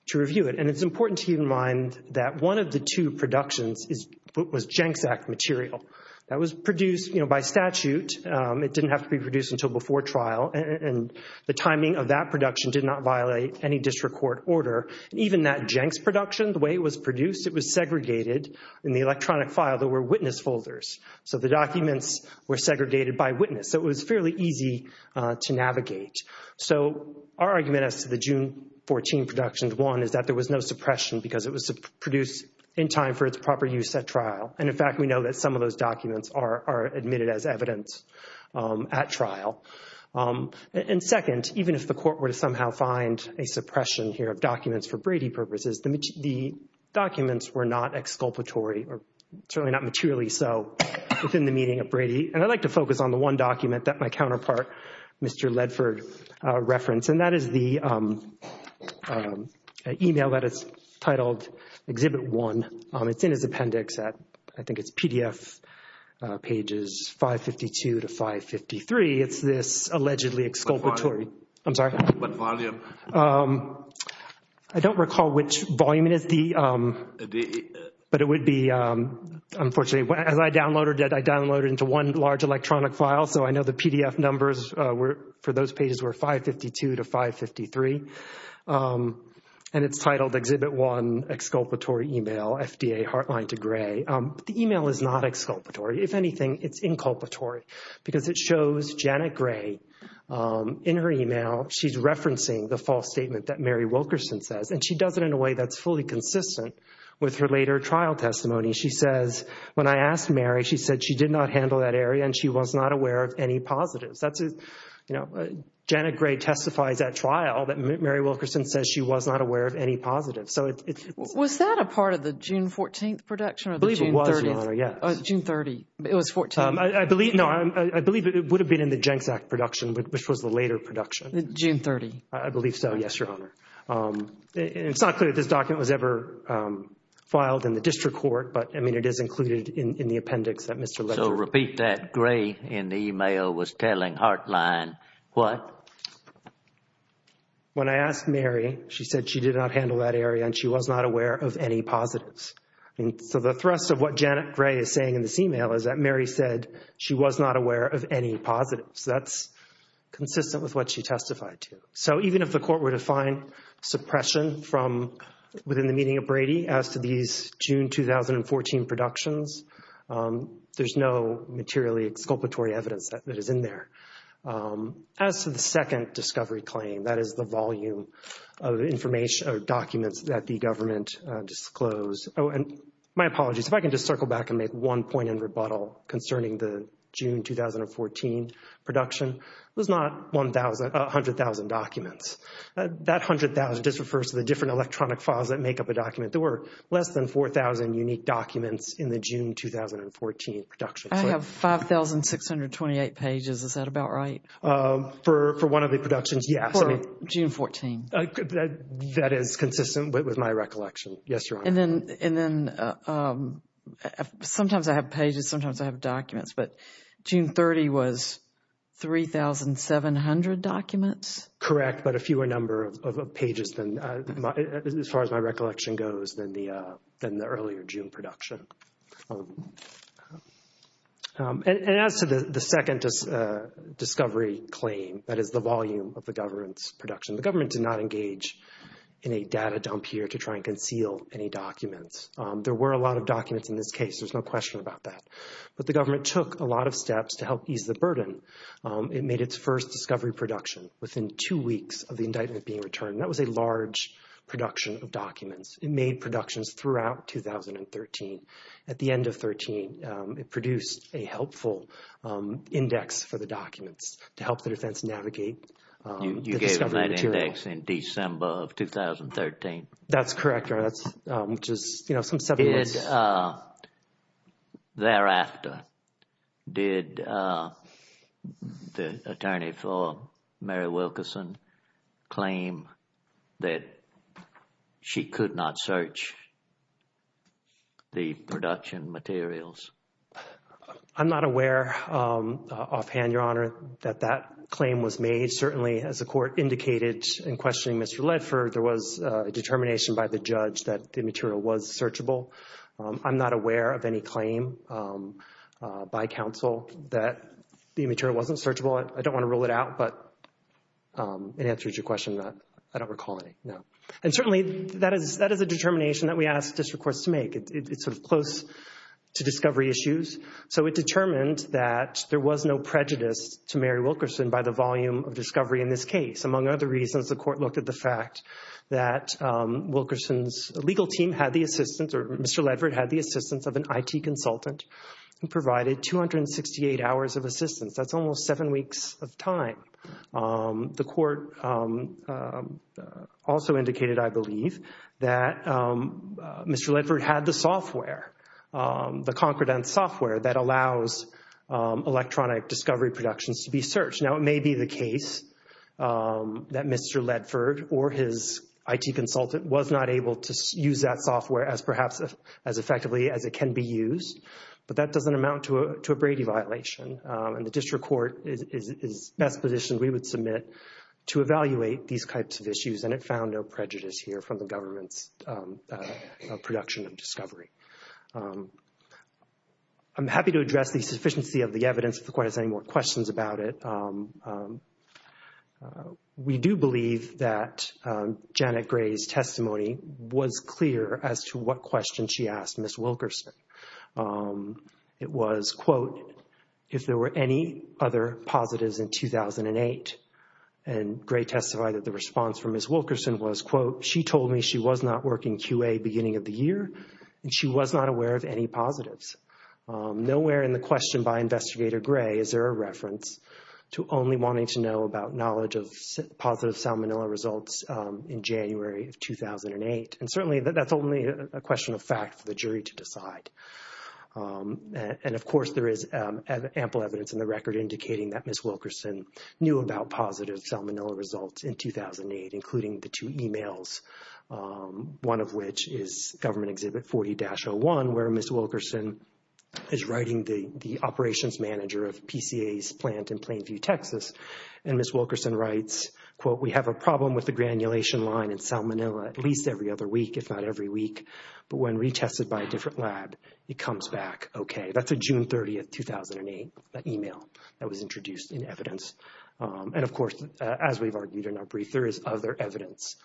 to review it. And it's important to keep in mind that one of the two productions was Jenks Act material that was produced by statute. It didn't have to be produced until before trial. And the timing of that production did not violate any district court order. Even that Jenks production, the way it was produced, it was segregated in the electronic file. There were witness folders. So the documents were segregated by witness. So it was fairly easy to navigate. So our argument as to the June 2014 production, one, is that there was no suppression because it was produced in time for its proper use at trial. And in fact, we know that some of those documents are admitted as evidence at trial. And second, even if the court were to somehow find a suppression here of documents for Brady purposes, the documents were not exculpatory or certainly not materially so within the meaning of Brady. And I'd like to focus on the one document that my counterpart, Mr. Ledford, referenced. And that is the email that is titled Exhibit 1. It's in his appendix at, I think it's PDF pages 552 to 553. It's this allegedly exculpatory. I'm sorry. I don't recall which volume it would be, but it would be, unfortunately, as I downloaded it, I downloaded it into one large electronic file. So I know the PDF numbers for those pages were 552 to 553. And it's titled Exhibit 1, Exculpatory Email, FDA Heartline to Gray. The email is not exculpatory. If anything, it's inculpatory because it shows Janet Gray in her email. She's referencing the false statement that Mary Wilkerson says. And she does it in a way that's fully consistent with her later trial testimony. She says, when I asked Mary, she said she did not handle that area and she was not aware of any positives. Janet Gray testifies at trial that Mary Wilkerson says she was not aware of any positives. Was that a part of the June 14th production? I believe it was, yes. June 30th. It was 14th. I believe, no, I believe it would have been in the GenCac production, which was the later production. June 30th. I believe so, yes, Your Honor. It's not clear if this document was ever filed in the district court, but, I mean, it is included in the appendix that Mr. Lester So repeat that, Gray in the email was telling Heartline what? When I asked Mary, she said she did not handle that area and she was not aware of any positives. So the thrust of what Janet Gray is saying in this email is that Mary said she was not aware of any positives. That's consistent with what she testified to. So even if the court were to find suppression from within the meaning of Brady as to these June 2014 productions, there's no materially exculpatory evidence that is in there. As to the second discovery claim, that is the volume of information or documents that the government disclosed. Oh, and my apologies. If I can just circle back and make one point in rebuttal concerning the June 2014 production, there's not 100,000 documents. That 100,000 just refers to the different electronic files that make up a document. There were less than 4,000 unique documents in the June 2014 production. I have 5,628 pages. Is that about right? For one of the productions, yes. For June 14. That is consistent with my recollection. Yes, Your Honor. And then sometimes I have pages, sometimes I have documents, but June 30 was 3,700 documents? Correct, but a fewer number of pages as far as my recollection goes than the earlier June production. And as to the second discovery claim, that is the volume of the government's production. The government did not engage in a data dump here to try and conceal any documents. There were a lot of documents in this case. There's no question about that. But the government took a lot of steps to help ease the burden. It made its first discovery production within two weeks of the indictment being returned. That was a large production of documents. It made productions throughout 2013. At the end of 2013, it produced a helpful index for the documents to help the defense navigate. You gave them that index in December of 2013? That's correct, Your Honor. Did thereafter, did the attorney for Mary Wilkerson claim that she could not search the production materials? I'm not aware offhand, Your Honor, that that claim was made. Certainly, as the court indicated in questioning Mr. Ledford, there was a determination by the judge that the material was searchable. I'm not aware of any claim by counsel that the material wasn't searchable. I don't want to rule it out, but it answers your question. I don't recall any. No. And certainly, that is a determination that we ask district courts to make. It's sort of close to discovery issues. So it determined that there was no prejudice to Mary Wilkerson by the volume of discovery in this case. Among other reasons, the court looked at the fact that Wilkerson's legal team had the assistance, or Mr. Ledford had the assistance of an IT consultant who provided 268 hours of assistance. That's almost seven weeks of time. The court also indicated, I believe, that Mr. Ledford had the software, the confident software that allows electronic discovery productions to be searched. Now, it may be the case that Mr. Ledford or his IT consultant was not able to use that software as perhaps as effectively as it can be used, but that doesn't amount to a Brady violation. And the district court is best positioned, we would submit, to evaluate these types of issues, and it found no prejudice here from the government's production of discovery. I'm happy to address the sufficiency of the evidence if the court has any more questions about it. We do believe that Janet Gray's testimony was clear as to what question she asked Ms. Wilkerson. It was, quote, if there were any other positives in 2008. And Gray testified that the response from Ms. Wilkerson was, quote, she told me she was not working QA beginning of the year, and she was not aware of any positives. Nowhere in the question by Investigator Gray is there a reference to only wanting to know about knowledge of positive salmonella results in January of 2008. And certainly, that's only a question of fact for the jury to decide. And of course, there is ample evidence in the record indicating that Ms. Wilkerson knew about positive salmonella results in 2008, including the two emails, one of which is Government Exhibit 40-01, where Ms. Wilkerson is writing the operations manager of PCA's plant in Plainview, Texas. And Ms. Wilkerson writes, quote, we have a problem with the granulation line in salmonella at least every other week, if not every week. But when retested by a different lab, it comes back OK. That's a June 30, 2008 email that was introduced in evidence. And of course, as we've argued in our brief, there is other evidence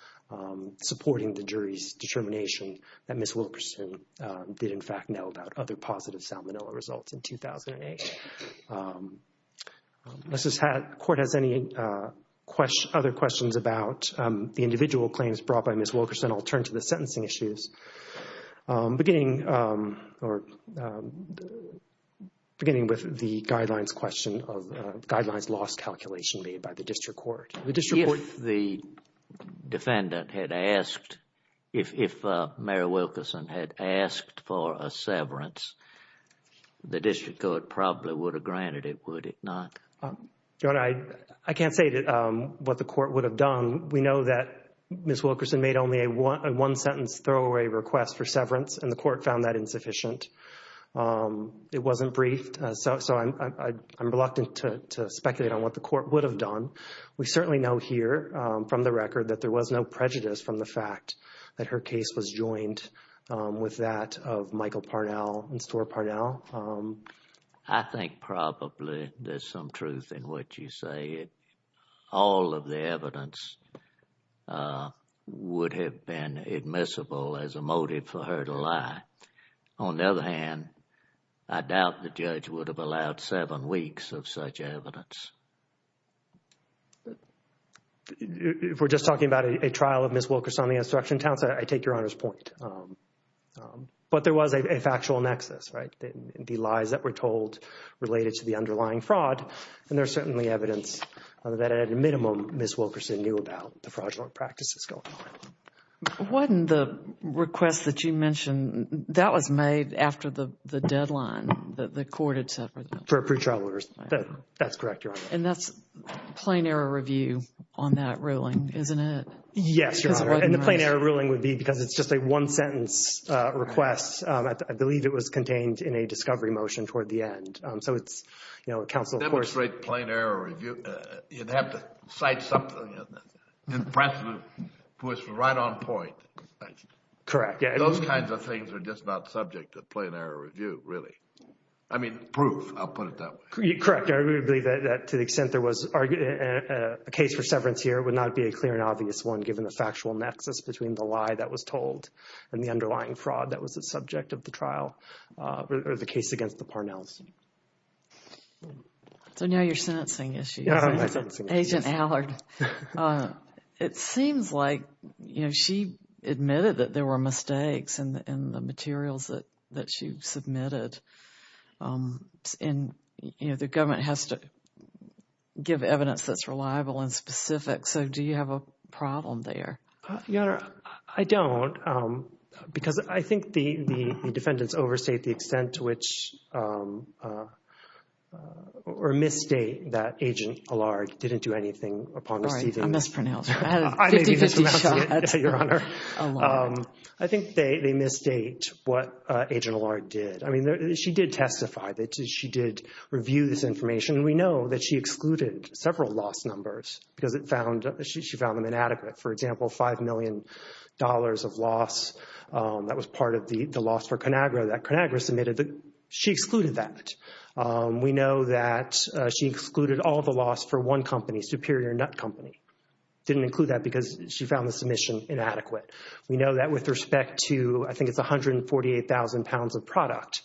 supporting the jury's determination that Ms. Wilkerson did, in fact, know about other positive salmonella results in 2008. Unless the court has any other questions about the individual claims brought by Ms. Wilkerson, I'll turn to the sentencing issues, beginning with the guidelines question of guidelines calculation made by the district court. If the defendant had asked, if Mary Wilkerson had asked for a severance, the district court probably would have granted it, would it not? John, I can't say what the court would have done. We know that Ms. Wilkerson made only a one-sentence throwaway request for severance, and the court found that insufficient. It wasn't briefed, so I'm reluctant to speculate on what the court would have done. We certainly know here from the record that there was no prejudice from the fact that her case was joined with that of Michael Parnell and Sore Parnell. I think probably there's some truth in what you say. All of the evidence would have been admissible as a motive for her to lie. On the other hand, I doubt the judge would have allowed seven weeks of such evidence. If we're just talking about a trial of Ms. Wilkerson on the instruction count, I take Your Honor's point. But there was a factual nexus, right? The lies that were told related to the underlying fraud, and there's certainly evidence that at a minimum Ms. Wilkerson would have lied about the fraudulent practices going on. Wasn't the request that you mentioned, that was made after the deadline that the court had set? For pre-trial orders. That's correct, Your Honor. And that's a plain error review on that ruling, isn't it? Yes, Your Honor. And the plain error ruling would be because it's just a one-sentence request. I believe it was contained in a discovery motion toward the end. So it's, you know, accountable for... To demonstrate plain error review, you'd have to cite something impressive that was right on point. Correct, yeah. Those kinds of things are just not subject to plain error review, really. I mean, proof, I'll put it that way. Correct. I really believe that to the extent there was a case for seventh year, it would not be a clear and obvious one given the factual nexus between the lie that was told and the underlying fraud that was the subject of the trial, or the case against the Parnells. So now you're sentencing issues. Yeah, I'm sentencing issues. Agent Allard, it seems like, you know, she admitted that there were mistakes in the materials that she submitted. And, you know, the government has to give evidence that's reliable and specific. So do you have a problem there? Your Honor, I don't. Because I think the defendants overstate the extent to which or misstate that Agent Allard didn't do anything upon receiving... All right, I mispronounced. I think they misstate what Agent Allard did. I mean, she did testify that she did review this information. We know that she excluded several loss numbers because she found them inadequate. For example, $5 million of loss, that was part of the loss for Conagra that Conagra submitted. She excluded that. We know that she excluded all the loss for one company, Superior Nut Company. Didn't include that because she found the submission inadequate. We know that with respect to, I think it's 148,000 pounds of product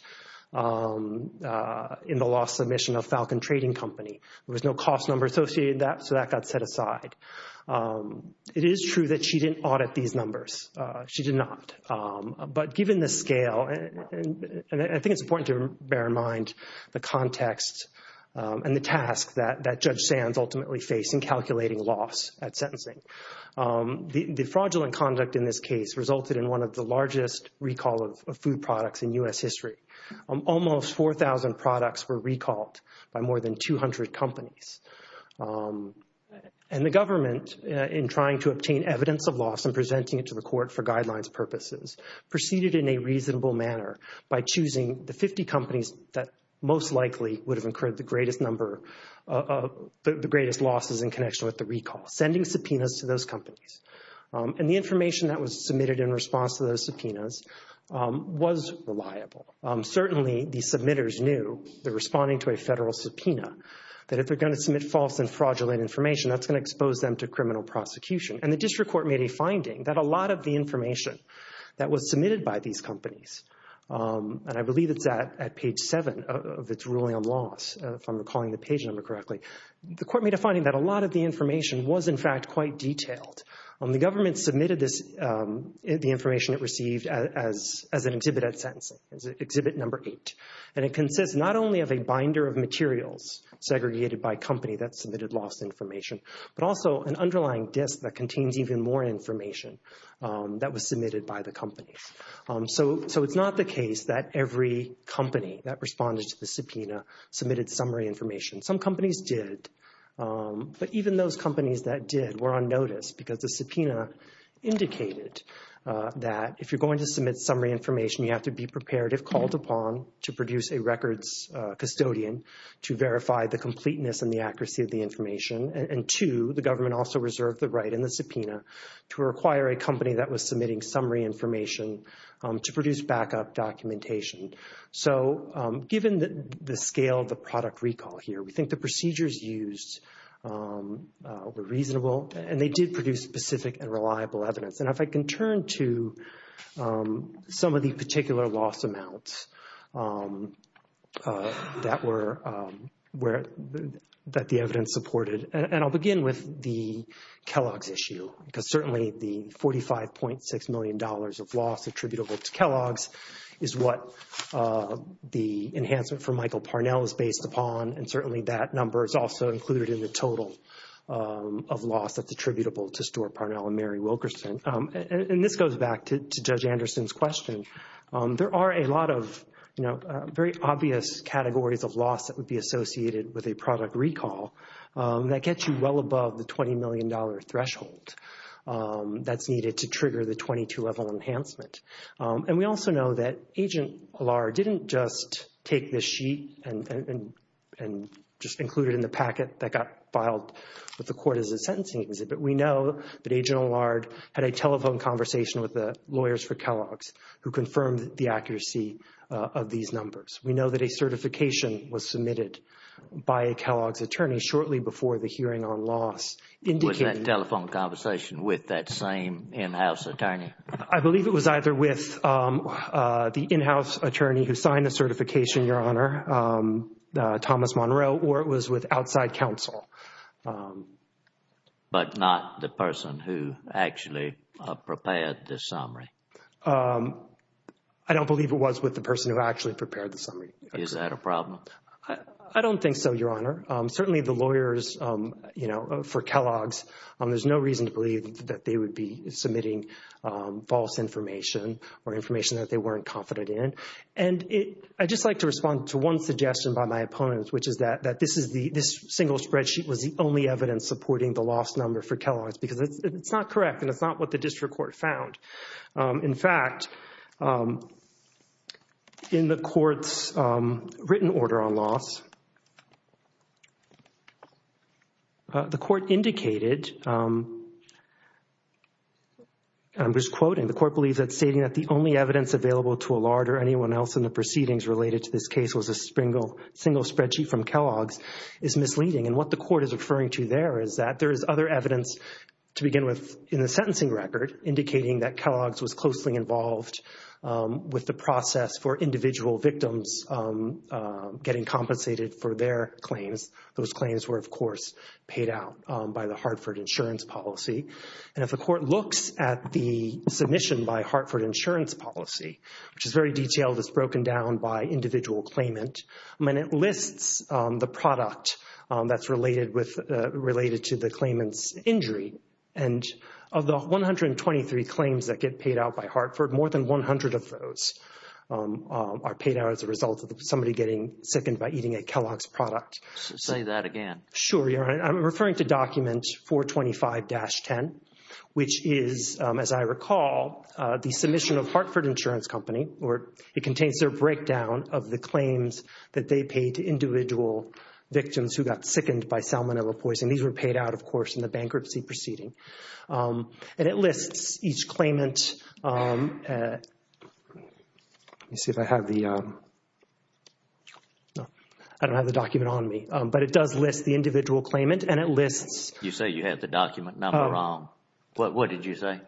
in the loss submission of Falcon Trading Company. There was no cost number associated with that, so that got set aside. It is true that she didn't audit these numbers. She did not. But given the scale, and I think it's important to bear in mind the context and the task that Judge Sands ultimately faced in calculating loss at sentencing. The fraudulent conduct in this case resulted in one of the largest recall of food products in U.S. history. Almost 4,000 products were recalled by more than 200 companies. And the government, in trying to obtain evidence of loss and presenting it to the court for guidelines purposes, proceeded in a reasonable manner by choosing the 50 companies that most likely would have incurred the greatest number of the greatest losses in connection with the recall, sending subpoenas to those companies. And the information that was submitted in response to those subpoenas was reliable. Certainly, the submitters knew, they're responding to a federal subpoena, that if they're going to submit false and fraudulent information, that's going to expose them to criminal prosecution. And the a lot of the information that was submitted by these companies, and I believe it's that at page seven of its ruling on loss, if I'm recalling the page number correctly, the court made a finding that a lot of the information was in fact quite detailed. The government submitted the information it received as an exhibit at sentencing, as exhibit number eight. And it consists not only of a binder of materials segregated by company that submitted loss information, but also an that was submitted by the company. So, it's not the case that every company that responded to the subpoena submitted summary information. Some companies did, but even those companies that did were on notice because the subpoena indicated that if you're going to submit summary information, you have to be prepared if called upon to produce a records custodian to verify the completeness and the accuracy of the information. And two, the government also reserved the right in the subpoena to require a company that was submitting summary information to produce backup documentation. So, given the scale of the product recall here, we think the procedures used were reasonable and they did produce specific and reliable evidence. And if I can turn to some of these particular loss amounts that the evidence supported, and I'll begin with the certainly the $45.6 million of loss attributable to Kellogg's is what the enhancement for Michael Parnell is based upon. And certainly that number is also included in the total of loss that's attributable to Stuart Parnell and Mary Wilkerson. And this goes back to Judge Anderson's question. There are a lot of, you know, very obvious categories of loss that would be associated with a product recall that gets you well above the $20 million threshold that's needed to trigger the 22-level enhancement. And we also know that Agent Allard didn't just take this sheet and just include it in the packet that got filed with the court as a sentencing agency, but we know that Agent Allard had a telephone conversation with the lawyers for Kellogg's who confirmed the accuracy of these numbers. We know that a certification was submitted by a Kellogg's attorney shortly before the hearing on loss. Was that telephone conversation with that same in-house attorney? I believe it was either with the in-house attorney who signed the certification, Your Honor, Thomas Monroe, or it was with outside counsel. But not the person who actually prepared the summary. I don't believe it was with the person who actually prepared the summary. Is that a problem? I don't think so, Your Honor. Certainly the lawyers, you know, for Kellogg's, there's no reason to believe that they would be submitting false information or information that they weren't confident in. And I'd just like to respond to one suggestion by my opponents, which is that this single spreadsheet was the only evidence supporting the loss number for Kellogg's because it's not correct and it's not what the district court found. In fact, in the court's written order on loss, the court indicated, I'm just quoting, the court believes that stating that the only evidence available to Allard or anyone else in the proceedings related to this case was a single spreadsheet from Kellogg's is misleading. And what the court is referring to there is that there is other evidence to begin with in the sentencing record indicating that Kellogg's was closely involved with the process for individual victims getting compensated for their claims. Those claims were, of course, paid out by the Hartford Insurance Policy. And if the court looks at the submission by Hartford Insurance Policy, which is very detailed, it's broken down by individual claimant, and then it lists the product that's related to the claimant's injury. And of the 123 claims that get paid out by Hartford, more than 100 of those are paid out as a result of somebody getting sickened by eating a Kellogg's product. Say that again. Sure, Your Honor. I'm referring to document 425-10, which is, as I recall, the submission of Hartford Insurance Company, or it contains their breakdown of the claims that they paid to individual victims who got sickened by salmonella poison. These were paid out, of course, in the bankruptcy proceeding. And it lists each claimant. Let me see if I have the... No, I don't have the document on me. But it does list the individual claimant and it lists... You say you have the document. No, I'm wrong. What did you say?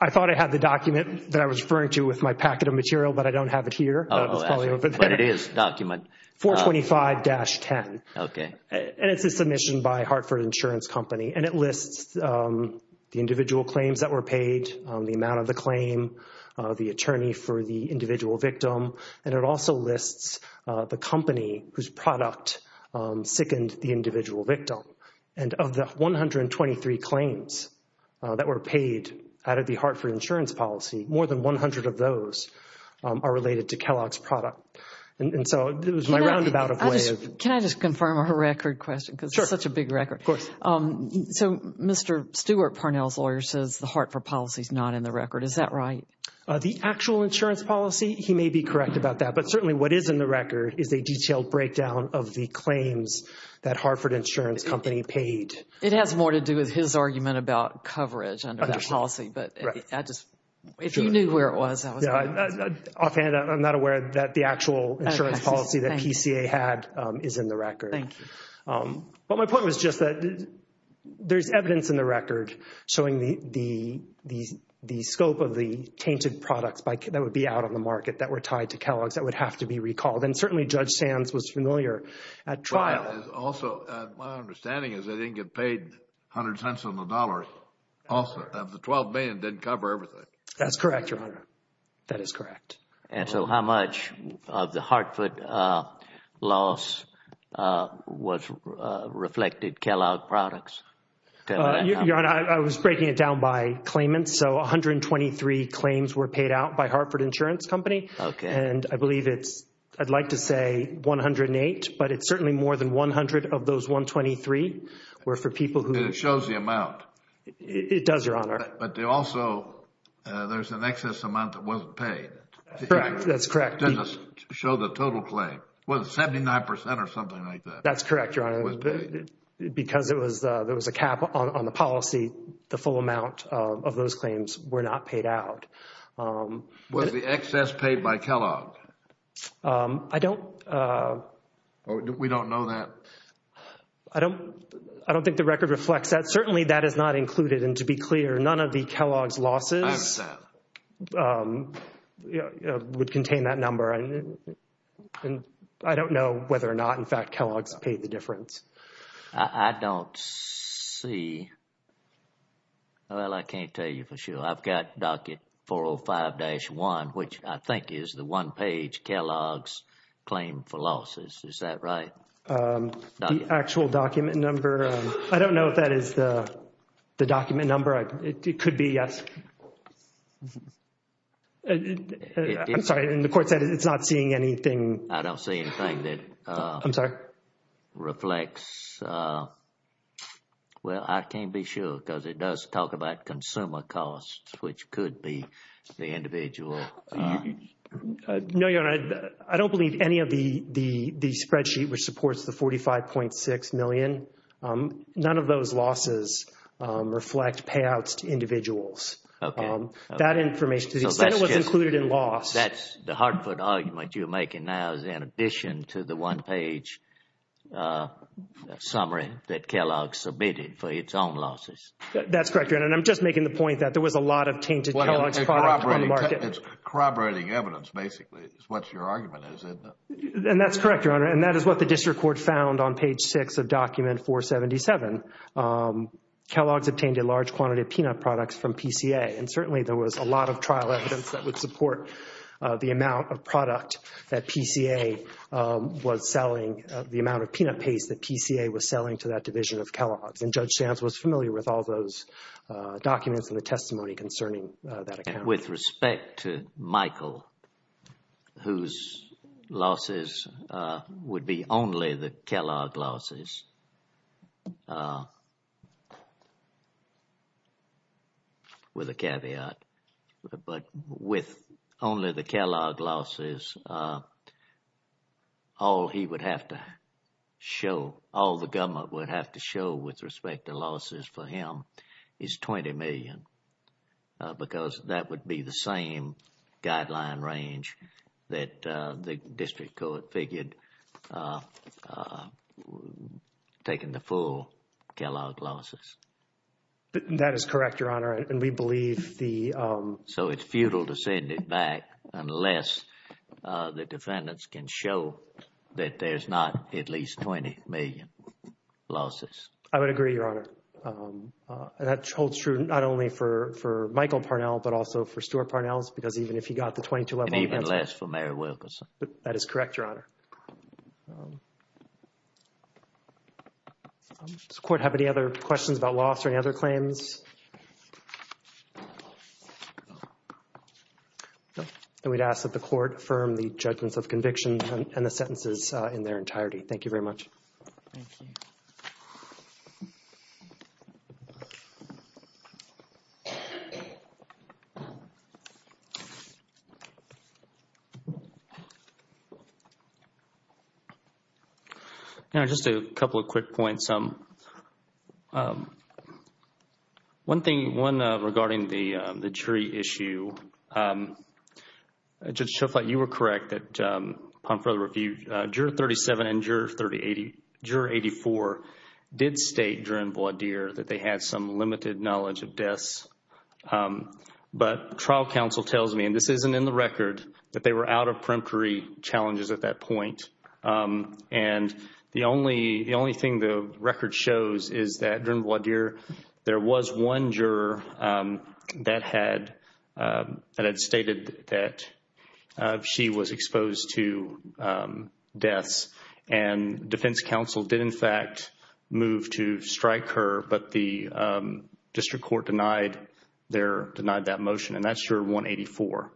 I thought I had the document that I was referring to with my packet of material, but I don't have it here. Oh, that's what it is, document. 425-10. Okay. And it's a submission by Hartford Insurance Company, and it lists the individual claims that were paid, the amount of the claim, the attorney for the individual victim, and it also lists the company whose product sickened the individual victim. And of the 123 claims that were paid out of the Hartford Insurance Policy, more than 100 of those are related to Kellogg's product. And so it was my roundabout of ways... Can I just confirm a record question? Sure. Because it's such a big record. Of course. So Mr. Stewart Parnell's lawyer says the Hartford Policy is not in the record. Is that right? The actual insurance policy, he may be correct about that. But certainly what is in the record is a detailed breakdown of the claims that Hartford Insurance Company paid. It has more to do with his argument about coverage under that policy, but if you knew where it was, I would know. Offhand, I'm not aware that the actual insurance policy that PCA had is in the record. Thank you. But my point was just that there's evidence in the record showing the scope of the tainted products that would be out on the market that were tied to Kellogg's that would have to be filed. Also, my understanding is they didn't get paid 100 cents on the dollars. Also, the 12 million didn't cover everything. That's correct, Your Honor. That is correct. And so how much of the Hartford loss was reflected Kellogg products? Your Honor, I was breaking it down by claimants. So 123 claims were paid out by Hartford Insurance Company. Okay. And I believe it's, I'd like to say 108, but it's certainly more than 100 of those 123 were for people who... It shows the amount. It does, Your Honor. But they also, there's an excess amount that wasn't paid. That's correct. To show the total claim. Was it 79% or something like that? That's correct, Your Honor. Because there was a cap on the policy, the full amount of those claims were not paid out. Was the excess paid by Kellogg? I don't... We don't know that. I don't think the record reflects that. Certainly, that is not included. And to be clear, none of the Kellogg's losses would contain that number. And I don't know whether or not, in fact, Kellogg's paid the difference. I don't see. Well, I can't tell you for sure. I've got docket 405-1, which I think is the one-page Kellogg's claim for losses. Is that right? The actual document number. I don't know if that is the document number. It could be. I'm sorry. And the court said it's not seeing anything. I don't see anything that... I'm sorry. ...reflects... Well, I can't be sure because it does talk about consumer costs, which could be the individual. No, Your Honor. I don't believe any of the spreadsheet which supports the 45.6 million. None of those losses reflect payouts to individuals. That information is included in loss. The Hartford argument you're making now is in addition to the one-page summary that Kellogg's submitted for its own losses. That's correct, Your Honor. And I'm just making the point that there was a lot of tainted Kellogg's products on the market. It's corroborating evidence, basically, is what your argument is. And that's correct, Your Honor. And that is what the district court found on page 6 of document 477. Kellogg's obtained a large quantity of peanut products from PCA. And certainly, there was a lot of trial evidence that would support the amount of product that PCA was selling, the amount of peanut paste that PCA was selling to that division of Kellogg's. And Judge Stantz was familiar with all those documents and the testimony concerning that. With respect to Michael, whose losses would be only the Kellogg losses with a caveat, but with only the Kellogg losses, all he would have to show, all the government would have to show with respect to losses for him is $20 million because that would be the same guideline range that the district court figured was taking the full Kellogg losses. That is correct, Your Honor. And we believe the... So it's futile to send it back unless the defendants can show that there's not at least $20 million losses. I would agree, Your Honor. And that holds true not only for Michael Parnell, but also for Stuart Parnell, because even if he got the $22 million... And even less for Mary Wilkerson. That is correct, Your Honor. Does the court have any other questions about loss or any other claims? And we'd ask that the court confirm the judgment of convictions and the sentences in their entirety. Thank you very much. Thank you. All right. Just a couple of quick points. One thing, one regarding the jury issue. Judge Schoffleit, you were correct that upon further review, Juror 37 and Juror 84 did state during voir dire that they have some limited knowledge of deaths. But the trial counsel tells me, and this isn't in the record, that they were out of peremptory challenges at that point. And the only thing the record shows is that during voir dire, there was one juror that had stated that she was exposed to deaths. And defense counsel did, in fact, move to strike her, but the district court denied that motion. And that's Juror 184.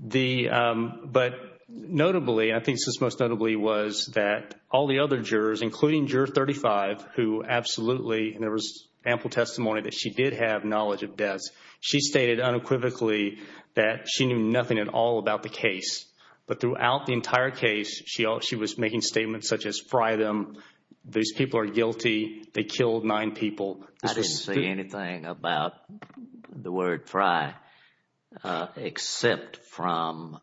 But notably, I think this was most notably, was that all the other jurors, including Juror 35, who absolutely... And there was ample testimony that she did have knowledge of deaths. She stated unequivocally that she knew nothing at all about the case. But throughout the entire case, she was making statements such as, these people are guilty, they killed nine people. I didn't say anything about the word fry except from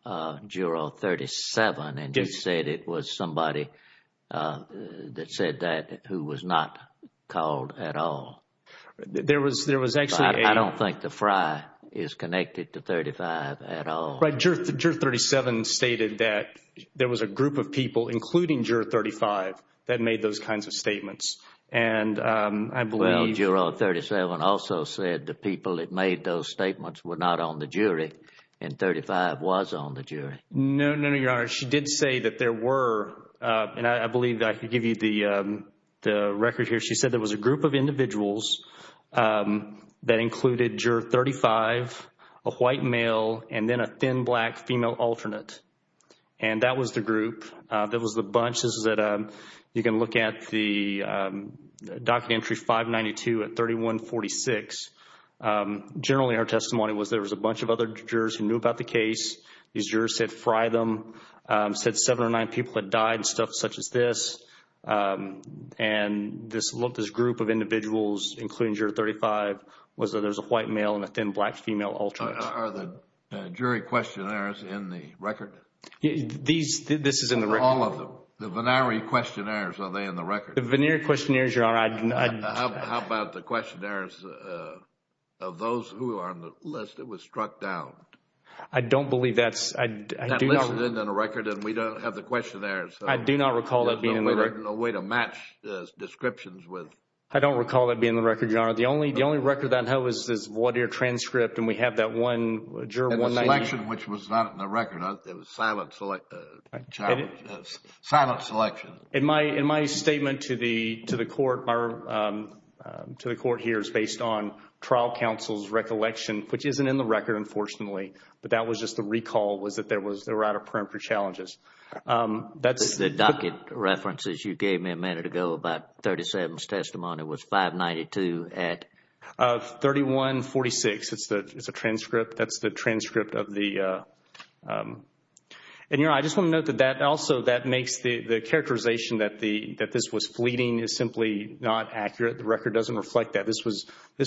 Juror 37. And you said it was somebody that said that who was not called at all. There was actually... I don't think the fry is connected to 35 at all. Juror 37 stated that there was a group of people, including Juror 35, that made those kinds of statements. And I believe... Well, Juror 37 also said the people that made those statements were not on the jury. And 35 was on the jury. No, no, no, Your Honor. She did say that there were... And I believe that I could give you the record here. She said there was a group of individuals that included Juror 35, a white male, and then a thin black female alternate. And that was the group. That was the bunches that you can look at the docket entry 592 at 3146. Generally, her testimony was there was a bunch of other jurors who knew about the case. These jurors said fry them, said seven or nine people had died and stuff such as this. And this group of individuals, including Juror 35, was that there was a white male and a thin black female alternate. Are the jury questionnaires in the record? These... This is in the record. All of them. The Vennari questionnaires, are they in the record? The Vennari questionnaires, Your Honor, I... How about the questionnaires of those who are on the list that was struck down? I don't believe that's... That list is in the record and we don't have the questionnaires. I do not recall that being in the record. There's no way to match the descriptions with... I don't recall that being in the record, Your Honor. The only record that I know is this Wadeer transcript and we have that one juror... In the selection, which was not in the record. It was silent selection. And my statement to the court here is based on trial counsel's recollection, which isn't in the record, unfortunately. But that was just a recall was that there was... They were out of print for challenges. The docket references you gave me a minute ago about 37's testimony was 592 of 3146. It's a transcript. That's the transcript of the... And, Your Honor, I just want to note that also that makes the characterization that this was fleeting is simply not accurate. The record doesn't reflect that. This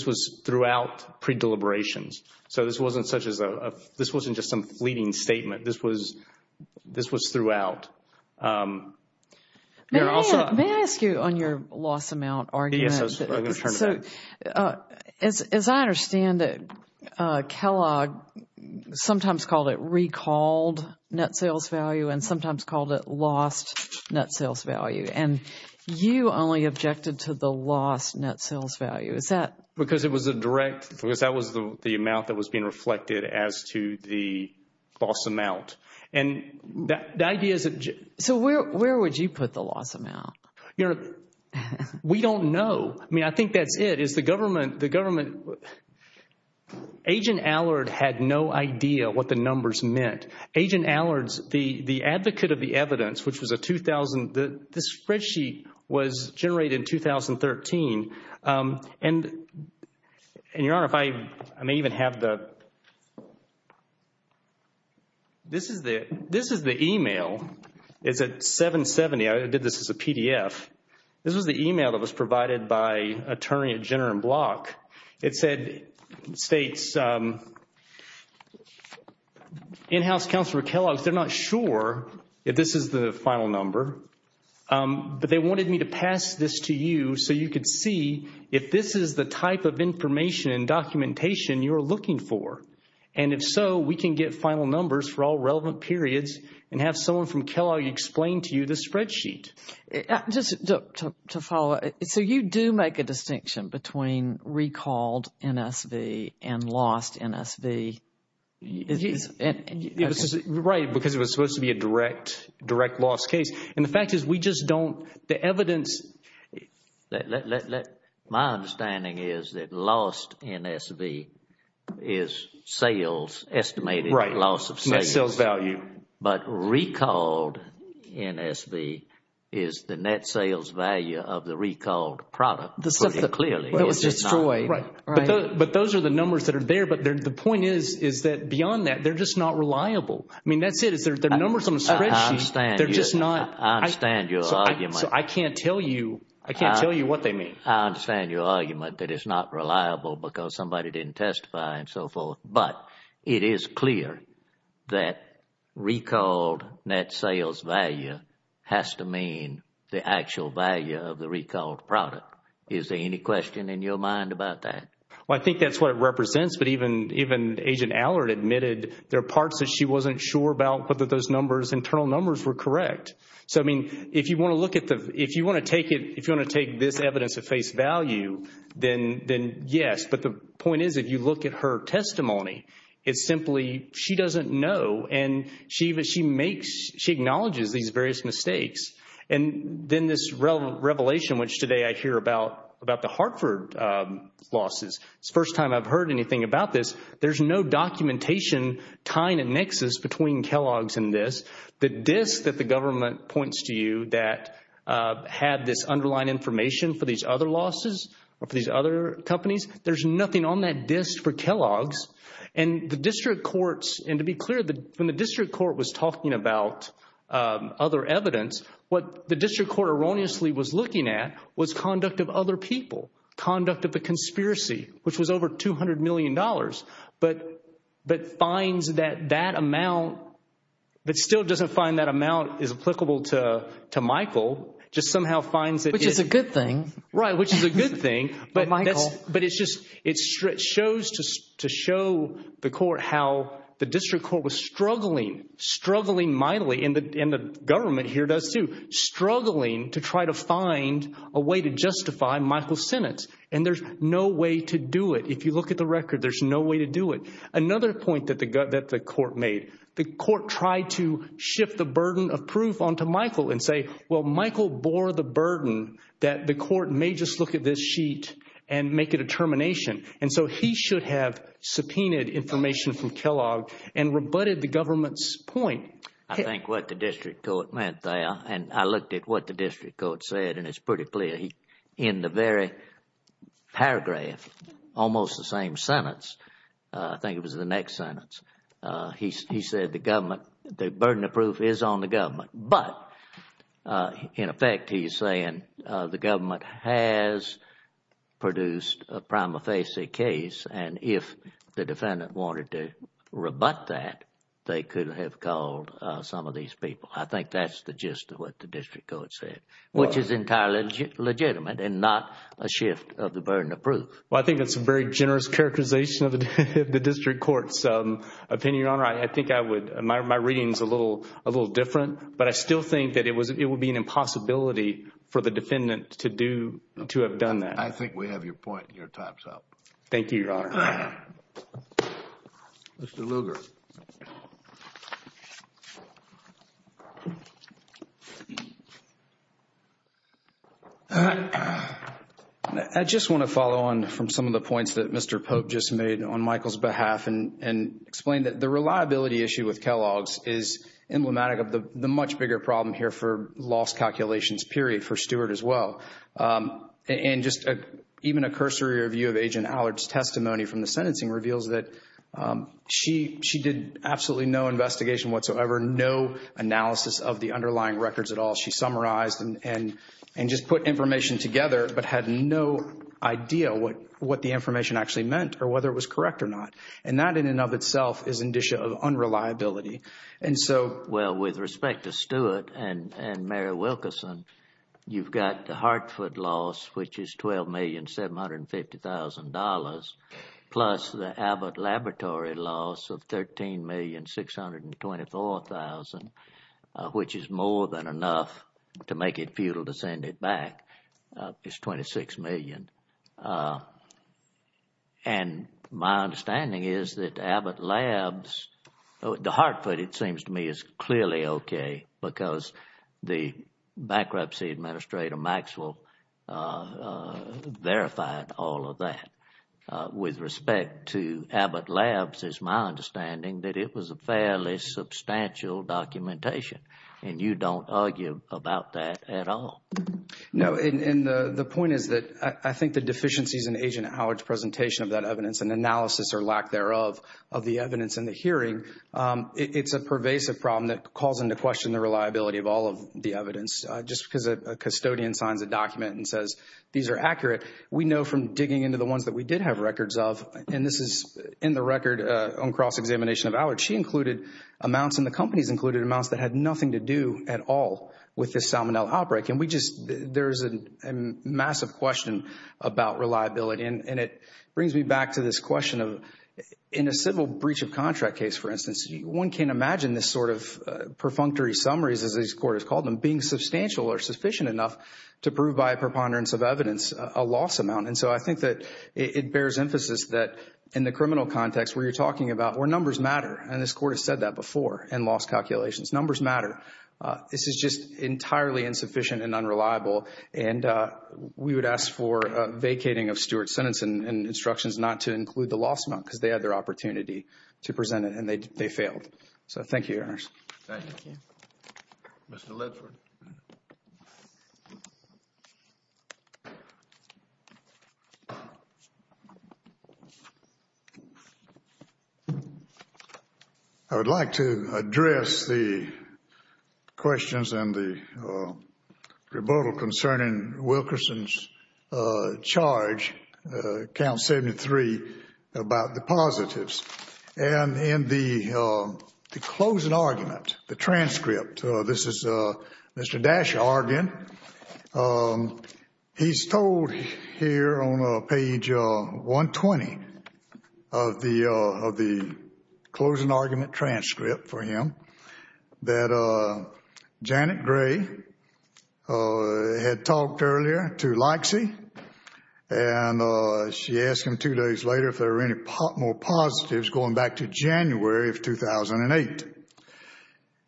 was throughout pre-deliberations. So this wasn't such as a... This wasn't just some fleeting statement. This was throughout. May I ask you on your loss amount argument? I'm going to turn to that. As I understand it, Kellogg sometimes called it recalled net sales value and sometimes called it lost net sales value. And you only objected to the lost net sales value. Is that... Because it was a direct... Because that was the amount that was being reflected as to the false amount. And the idea is that... So where would you put the loss amount? Your Honor, we don't know. I mean, I think that it is the government... Agent Allard had no idea what the numbers meant. Agent Allard, the advocate of the evidence, which was a 2000... This spreadsheet was generated in 2013. And, Your Honor, if I may even have the... This is the email. It's at 770. I did this as a PDF. This is the email that was provided by Attorney General Block. It states, in-house counselor Kellogg, they're not sure if this is the final number. But they wanted me to pass this to you so you could see if this is the type of information and documentation you're looking for. And if so, we can get final numbers for all relevant periods and have someone from Kellogg explain to you the spreadsheet. Just to follow up. So you do make a distinction between recalled NSV and lost NSV? Right, because it was supposed to be a direct loss case. And the fact is we just don't... The evidence... My understanding is that lost NSV is sales, estimated loss of sales. Right, net sales value. But recalled NSV is the net sales value of the recalled product. But those are the numbers that are there. But the point is that beyond that, they're just not reliable. I mean, that's it. The numbers on the spreadsheet, they're just not... I understand your argument. I can't tell you. I can't tell you what they mean. I understand your argument that it's not reliable because somebody didn't testify and so forth. But it is clear that recalled net sales value has to mean the actual value of the recalled product. Is there any question in your mind about that? Well, I think that's what it represents. But even Agent Allard admitted there are parts that she wasn't sure about whether those numbers, internal numbers, were correct. So, I mean, if you want to look at the... If you want to take it... If you want to take this evidence at face value, then yes. But the point is, if you look at her testimony, it's simply she doesn't know. And she acknowledges these various mistakes. And then this revelation, which today I hear about the Hartford losses. It's the first time I've heard anything about this. There's no documentation tying a nexus between Kellogg's and this. The diff that the government points to you that had this underlying information for these other losses or for these other companies, there's nothing on that disk for Kellogg's. And the district courts... And to be clear, when the district court was talking about other evidence, what the district court erroneously was looking at was conduct of other people, conduct of the conspiracy, which was over $200 million. But finds that that amount... But still doesn't find that amount is applicable to Michael, just somehow finds that... Right, which is a good thing, but it's just... It shows to show the court how the district court was struggling, struggling mightily, and the government here does too, struggling to try to find a way to justify Michael's sentence. And there's no way to do it. If you look at the record, there's no way to do it. Another point that the court made, the court tried to shift the burden of proof onto Michael and say, well, Michael bore the burden that the court may just look at this sheet and make a determination. And so he should have subpoenaed information from Kellogg and rebutted the government's point. I think what the district court meant there, and I looked at what the district court said, and it's pretty clear. In the very paragraph, almost the same sentence, I think it was the next sentence, he said the government, the burden of proof is on the government. But in effect, he's saying the government has produced a prima facie case, and if the defendant wanted to rebut that, they could have called some of these people. I think that's the gist of what the district court said, which is entirely legitimate and not a shift of the burden of proof. Well, I think it's a very generous characterization of the district court's opinion, Your Honor. I think I would, my reading is a little different, but I still think that it would be an impossibility for the defendant to have done that. I think we have your point and your time's up. Thank you, Your Honor. Mr. Lugar. I just want to follow on from some of the points that Mr. Pope just made on Michael's behalf and explain that the reliability issue with Kellogg's is emblematic of the much bigger problem here for lost calculations, period, for Stewart as well. Even a cursory review of Agent Allard's testimony from the sentencing reveals that she did absolutely no investigation whatsoever, no analysis of the underlying records at all. She summarized and just put information together, but had no idea what the information actually meant or whether it was correct or not. That in and of itself is an indicia of unreliability. Well, with respect to Stewart and Mary Wilkerson, you've got the Hartford loss, which is $12,750,000 plus the Abbott Laboratory loss of $13,624,000, which is more than enough to make it futile to send it back, is $26 million. And my understanding is that Abbott Labs, the Hartford, it seems to me, is clearly okay because the bankruptcy administrator, Maxwell, verified all of that. With respect to Abbott Labs, it's my understanding that it was a fairly substantial documentation, and you don't argue about that at all. No, and the point is that I think the deficiencies in Agent Allard's presentation of that evidence and analysis, or lack thereof, of the evidence in the hearing, it's a pervasive problem that calls into question the reliability of all of the evidence. Just because a custodian signs a document and says, these are accurate, we know from digging into the ones that we did have records of, and this is in the record on cross-examination of Allard, she included amounts and the companies included amounts that had nothing to do at all with this Salmonella outbreak. And there's a massive question about reliability, and it brings me back to this question of, in a civil breach of contract case, for instance, one can't imagine this sort of perfunctory summaries, as this court has called them, being substantial or sufficient enough to prove by preponderance of evidence a loss amount. And so I think that it bears emphasis that in the criminal context where you're talking about, where numbers matter, and this court has said that before in loss calculations, numbers matter, this is just entirely insufficient and unreliable. And we would ask for vacating of Stewart's sentence and instructions not to include the loss amount because they had their opportunity to present it, and they failed. So thank you, Your Honor. Thank you. Mr. Lipser. I would like to address the questions and the rebuttal concerning Wilkerson's charge, count 73, about the positives. And in the closing argument, the transcript, this is Mr. Daschar again. He's told here on page 120 of the closing argument transcript for him that Janet Gray had talked earlier to Leixi, and she asked him two days later if there were any more positives going back to January of 2008.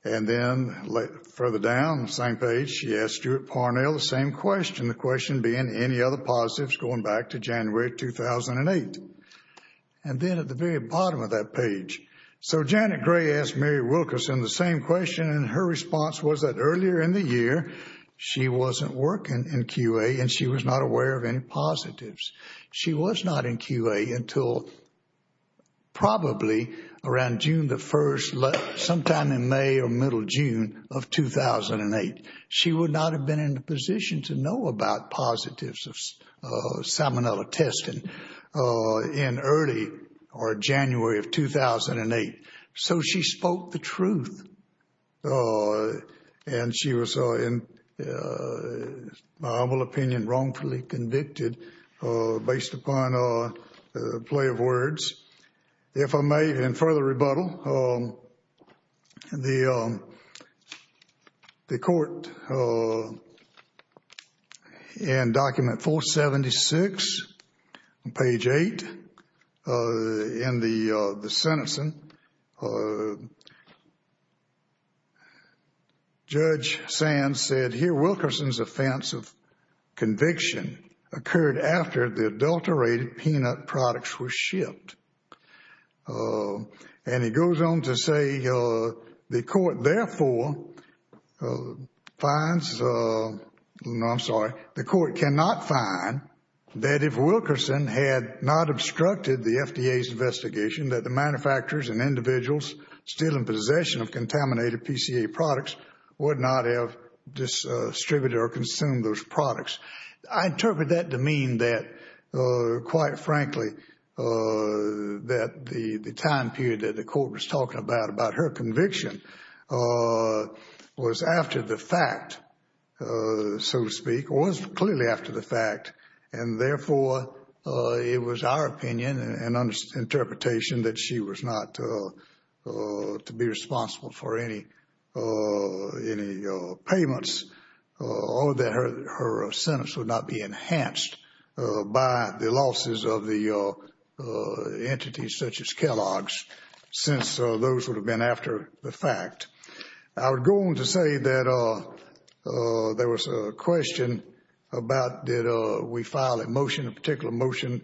And then further down on the same page, she asked Stewart Parnell the same question, the question being any other positives going back to January of 2008. And then at the very bottom of that page, so Janet Gray asked Mary Wilkerson the same question, and her response was that earlier in the year, she wasn't working in QA, and she was not aware of any positives. She was not in QA until probably around June the 1st, sometime in May or middle June of 2008. She would not have been in a position to know about positives of salmonella testing in early or January of 2008. So she spoke the truth, and she was, in my humble opinion, wrongfully convicted based upon a play of words. If I may, in further rebuttal, the court in document 476, page 8, in the sentencing, Judge Sands said, here, Wilkerson's offense of conviction occurred after the adulterated peanut products were shipped. And he goes on to say, the court therefore finds, no, I'm sorry, the court cannot find that if Wilkerson had not obstructed the FDA's investigation, that the manufacturers and individuals still in possession of contaminated PCA products would not have distributed or consumed those products. I interpret that to mean that, quite frankly, that the time period that the court was talking about, about her conviction, was after the fact, so to speak, or was clearly after the fact, and therefore, it was our opinion and interpretation that she was not to be responsible for any payments or that her sentence would not be enhanced by the losses of the entities such as Kellogg's. Since those would have been after the fact. I would go on to say that there was a question about, did we file a motion, a particular motion,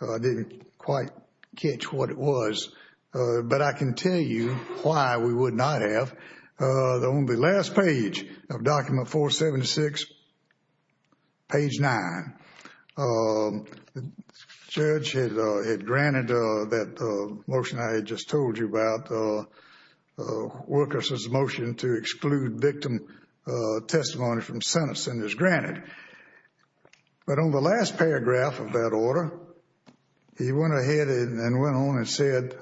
I didn't quite catch what it was, but I can tell you why we would not have. On the last page of document 476, page 9, the judge had granted that motion I had just told you about, Wilkerson's motion to exclude victim testimony from sentencing is granted. But on the last paragraph of that order, he went ahead and went on and said,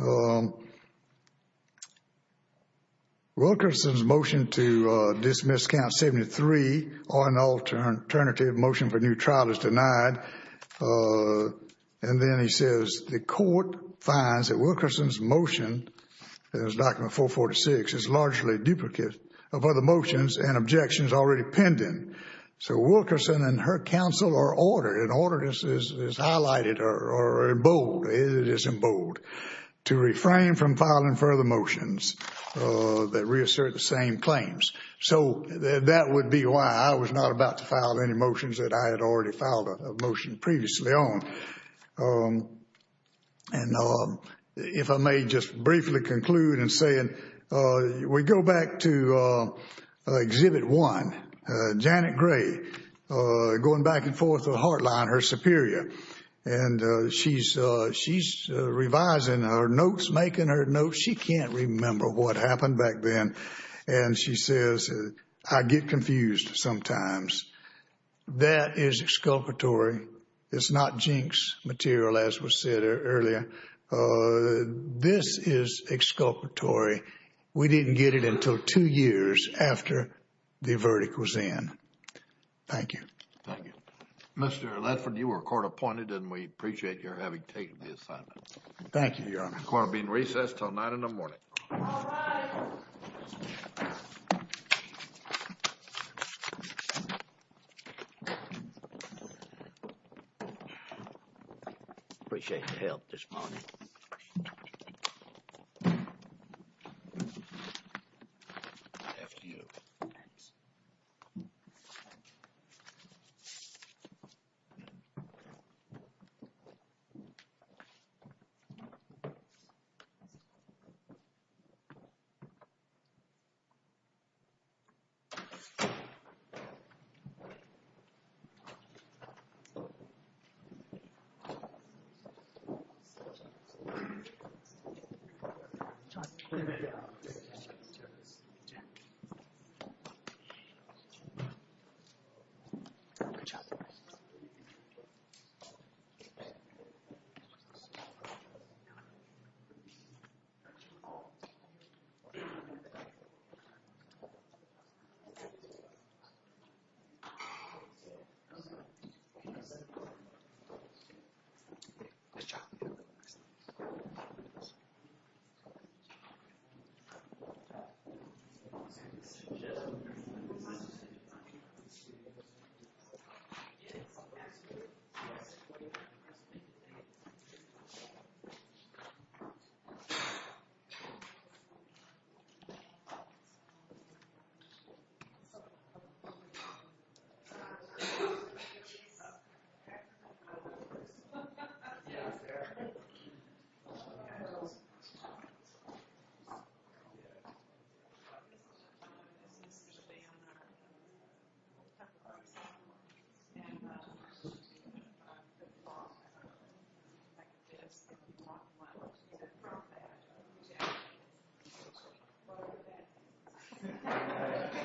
Wilkerson's motion to dismiss count 73 or an alternative motion for new trial is denied. And then he says, the court finds that Wilkerson's motion, in his document 446, is largely a duplicate of other motions and objections already pending. So, Wilkerson and her counsel or order, an order that is highlighted or in bold, it is refrained from filing further motions that reassert the same claims. So, that would be why I was not about to file any motions that I had already filed a motion previously on. And if I may just briefly conclude in saying, we go back to Exhibit 1, Janet Gray, going back and forth with Hartline, her superior. And she's revising her notes, making her notes. She can't remember what happened back then. And she says, I get confused sometimes. That is exculpatory. It's not jinx material, as was said earlier. This is exculpatory. We didn't get it until two years after the verdict was in. Thank you. Thank you. Mr. Latham, you are court-appointed and we appreciate your having taken the assignment. Thank you, Your Honor. The court will be in recess until 9 in the morning. All rise. Appreciate the help this morning. Thank you.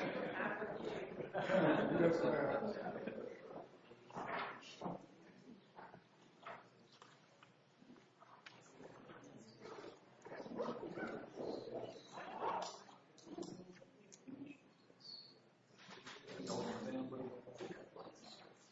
Good job. Good job. Good job. Good job. Good job.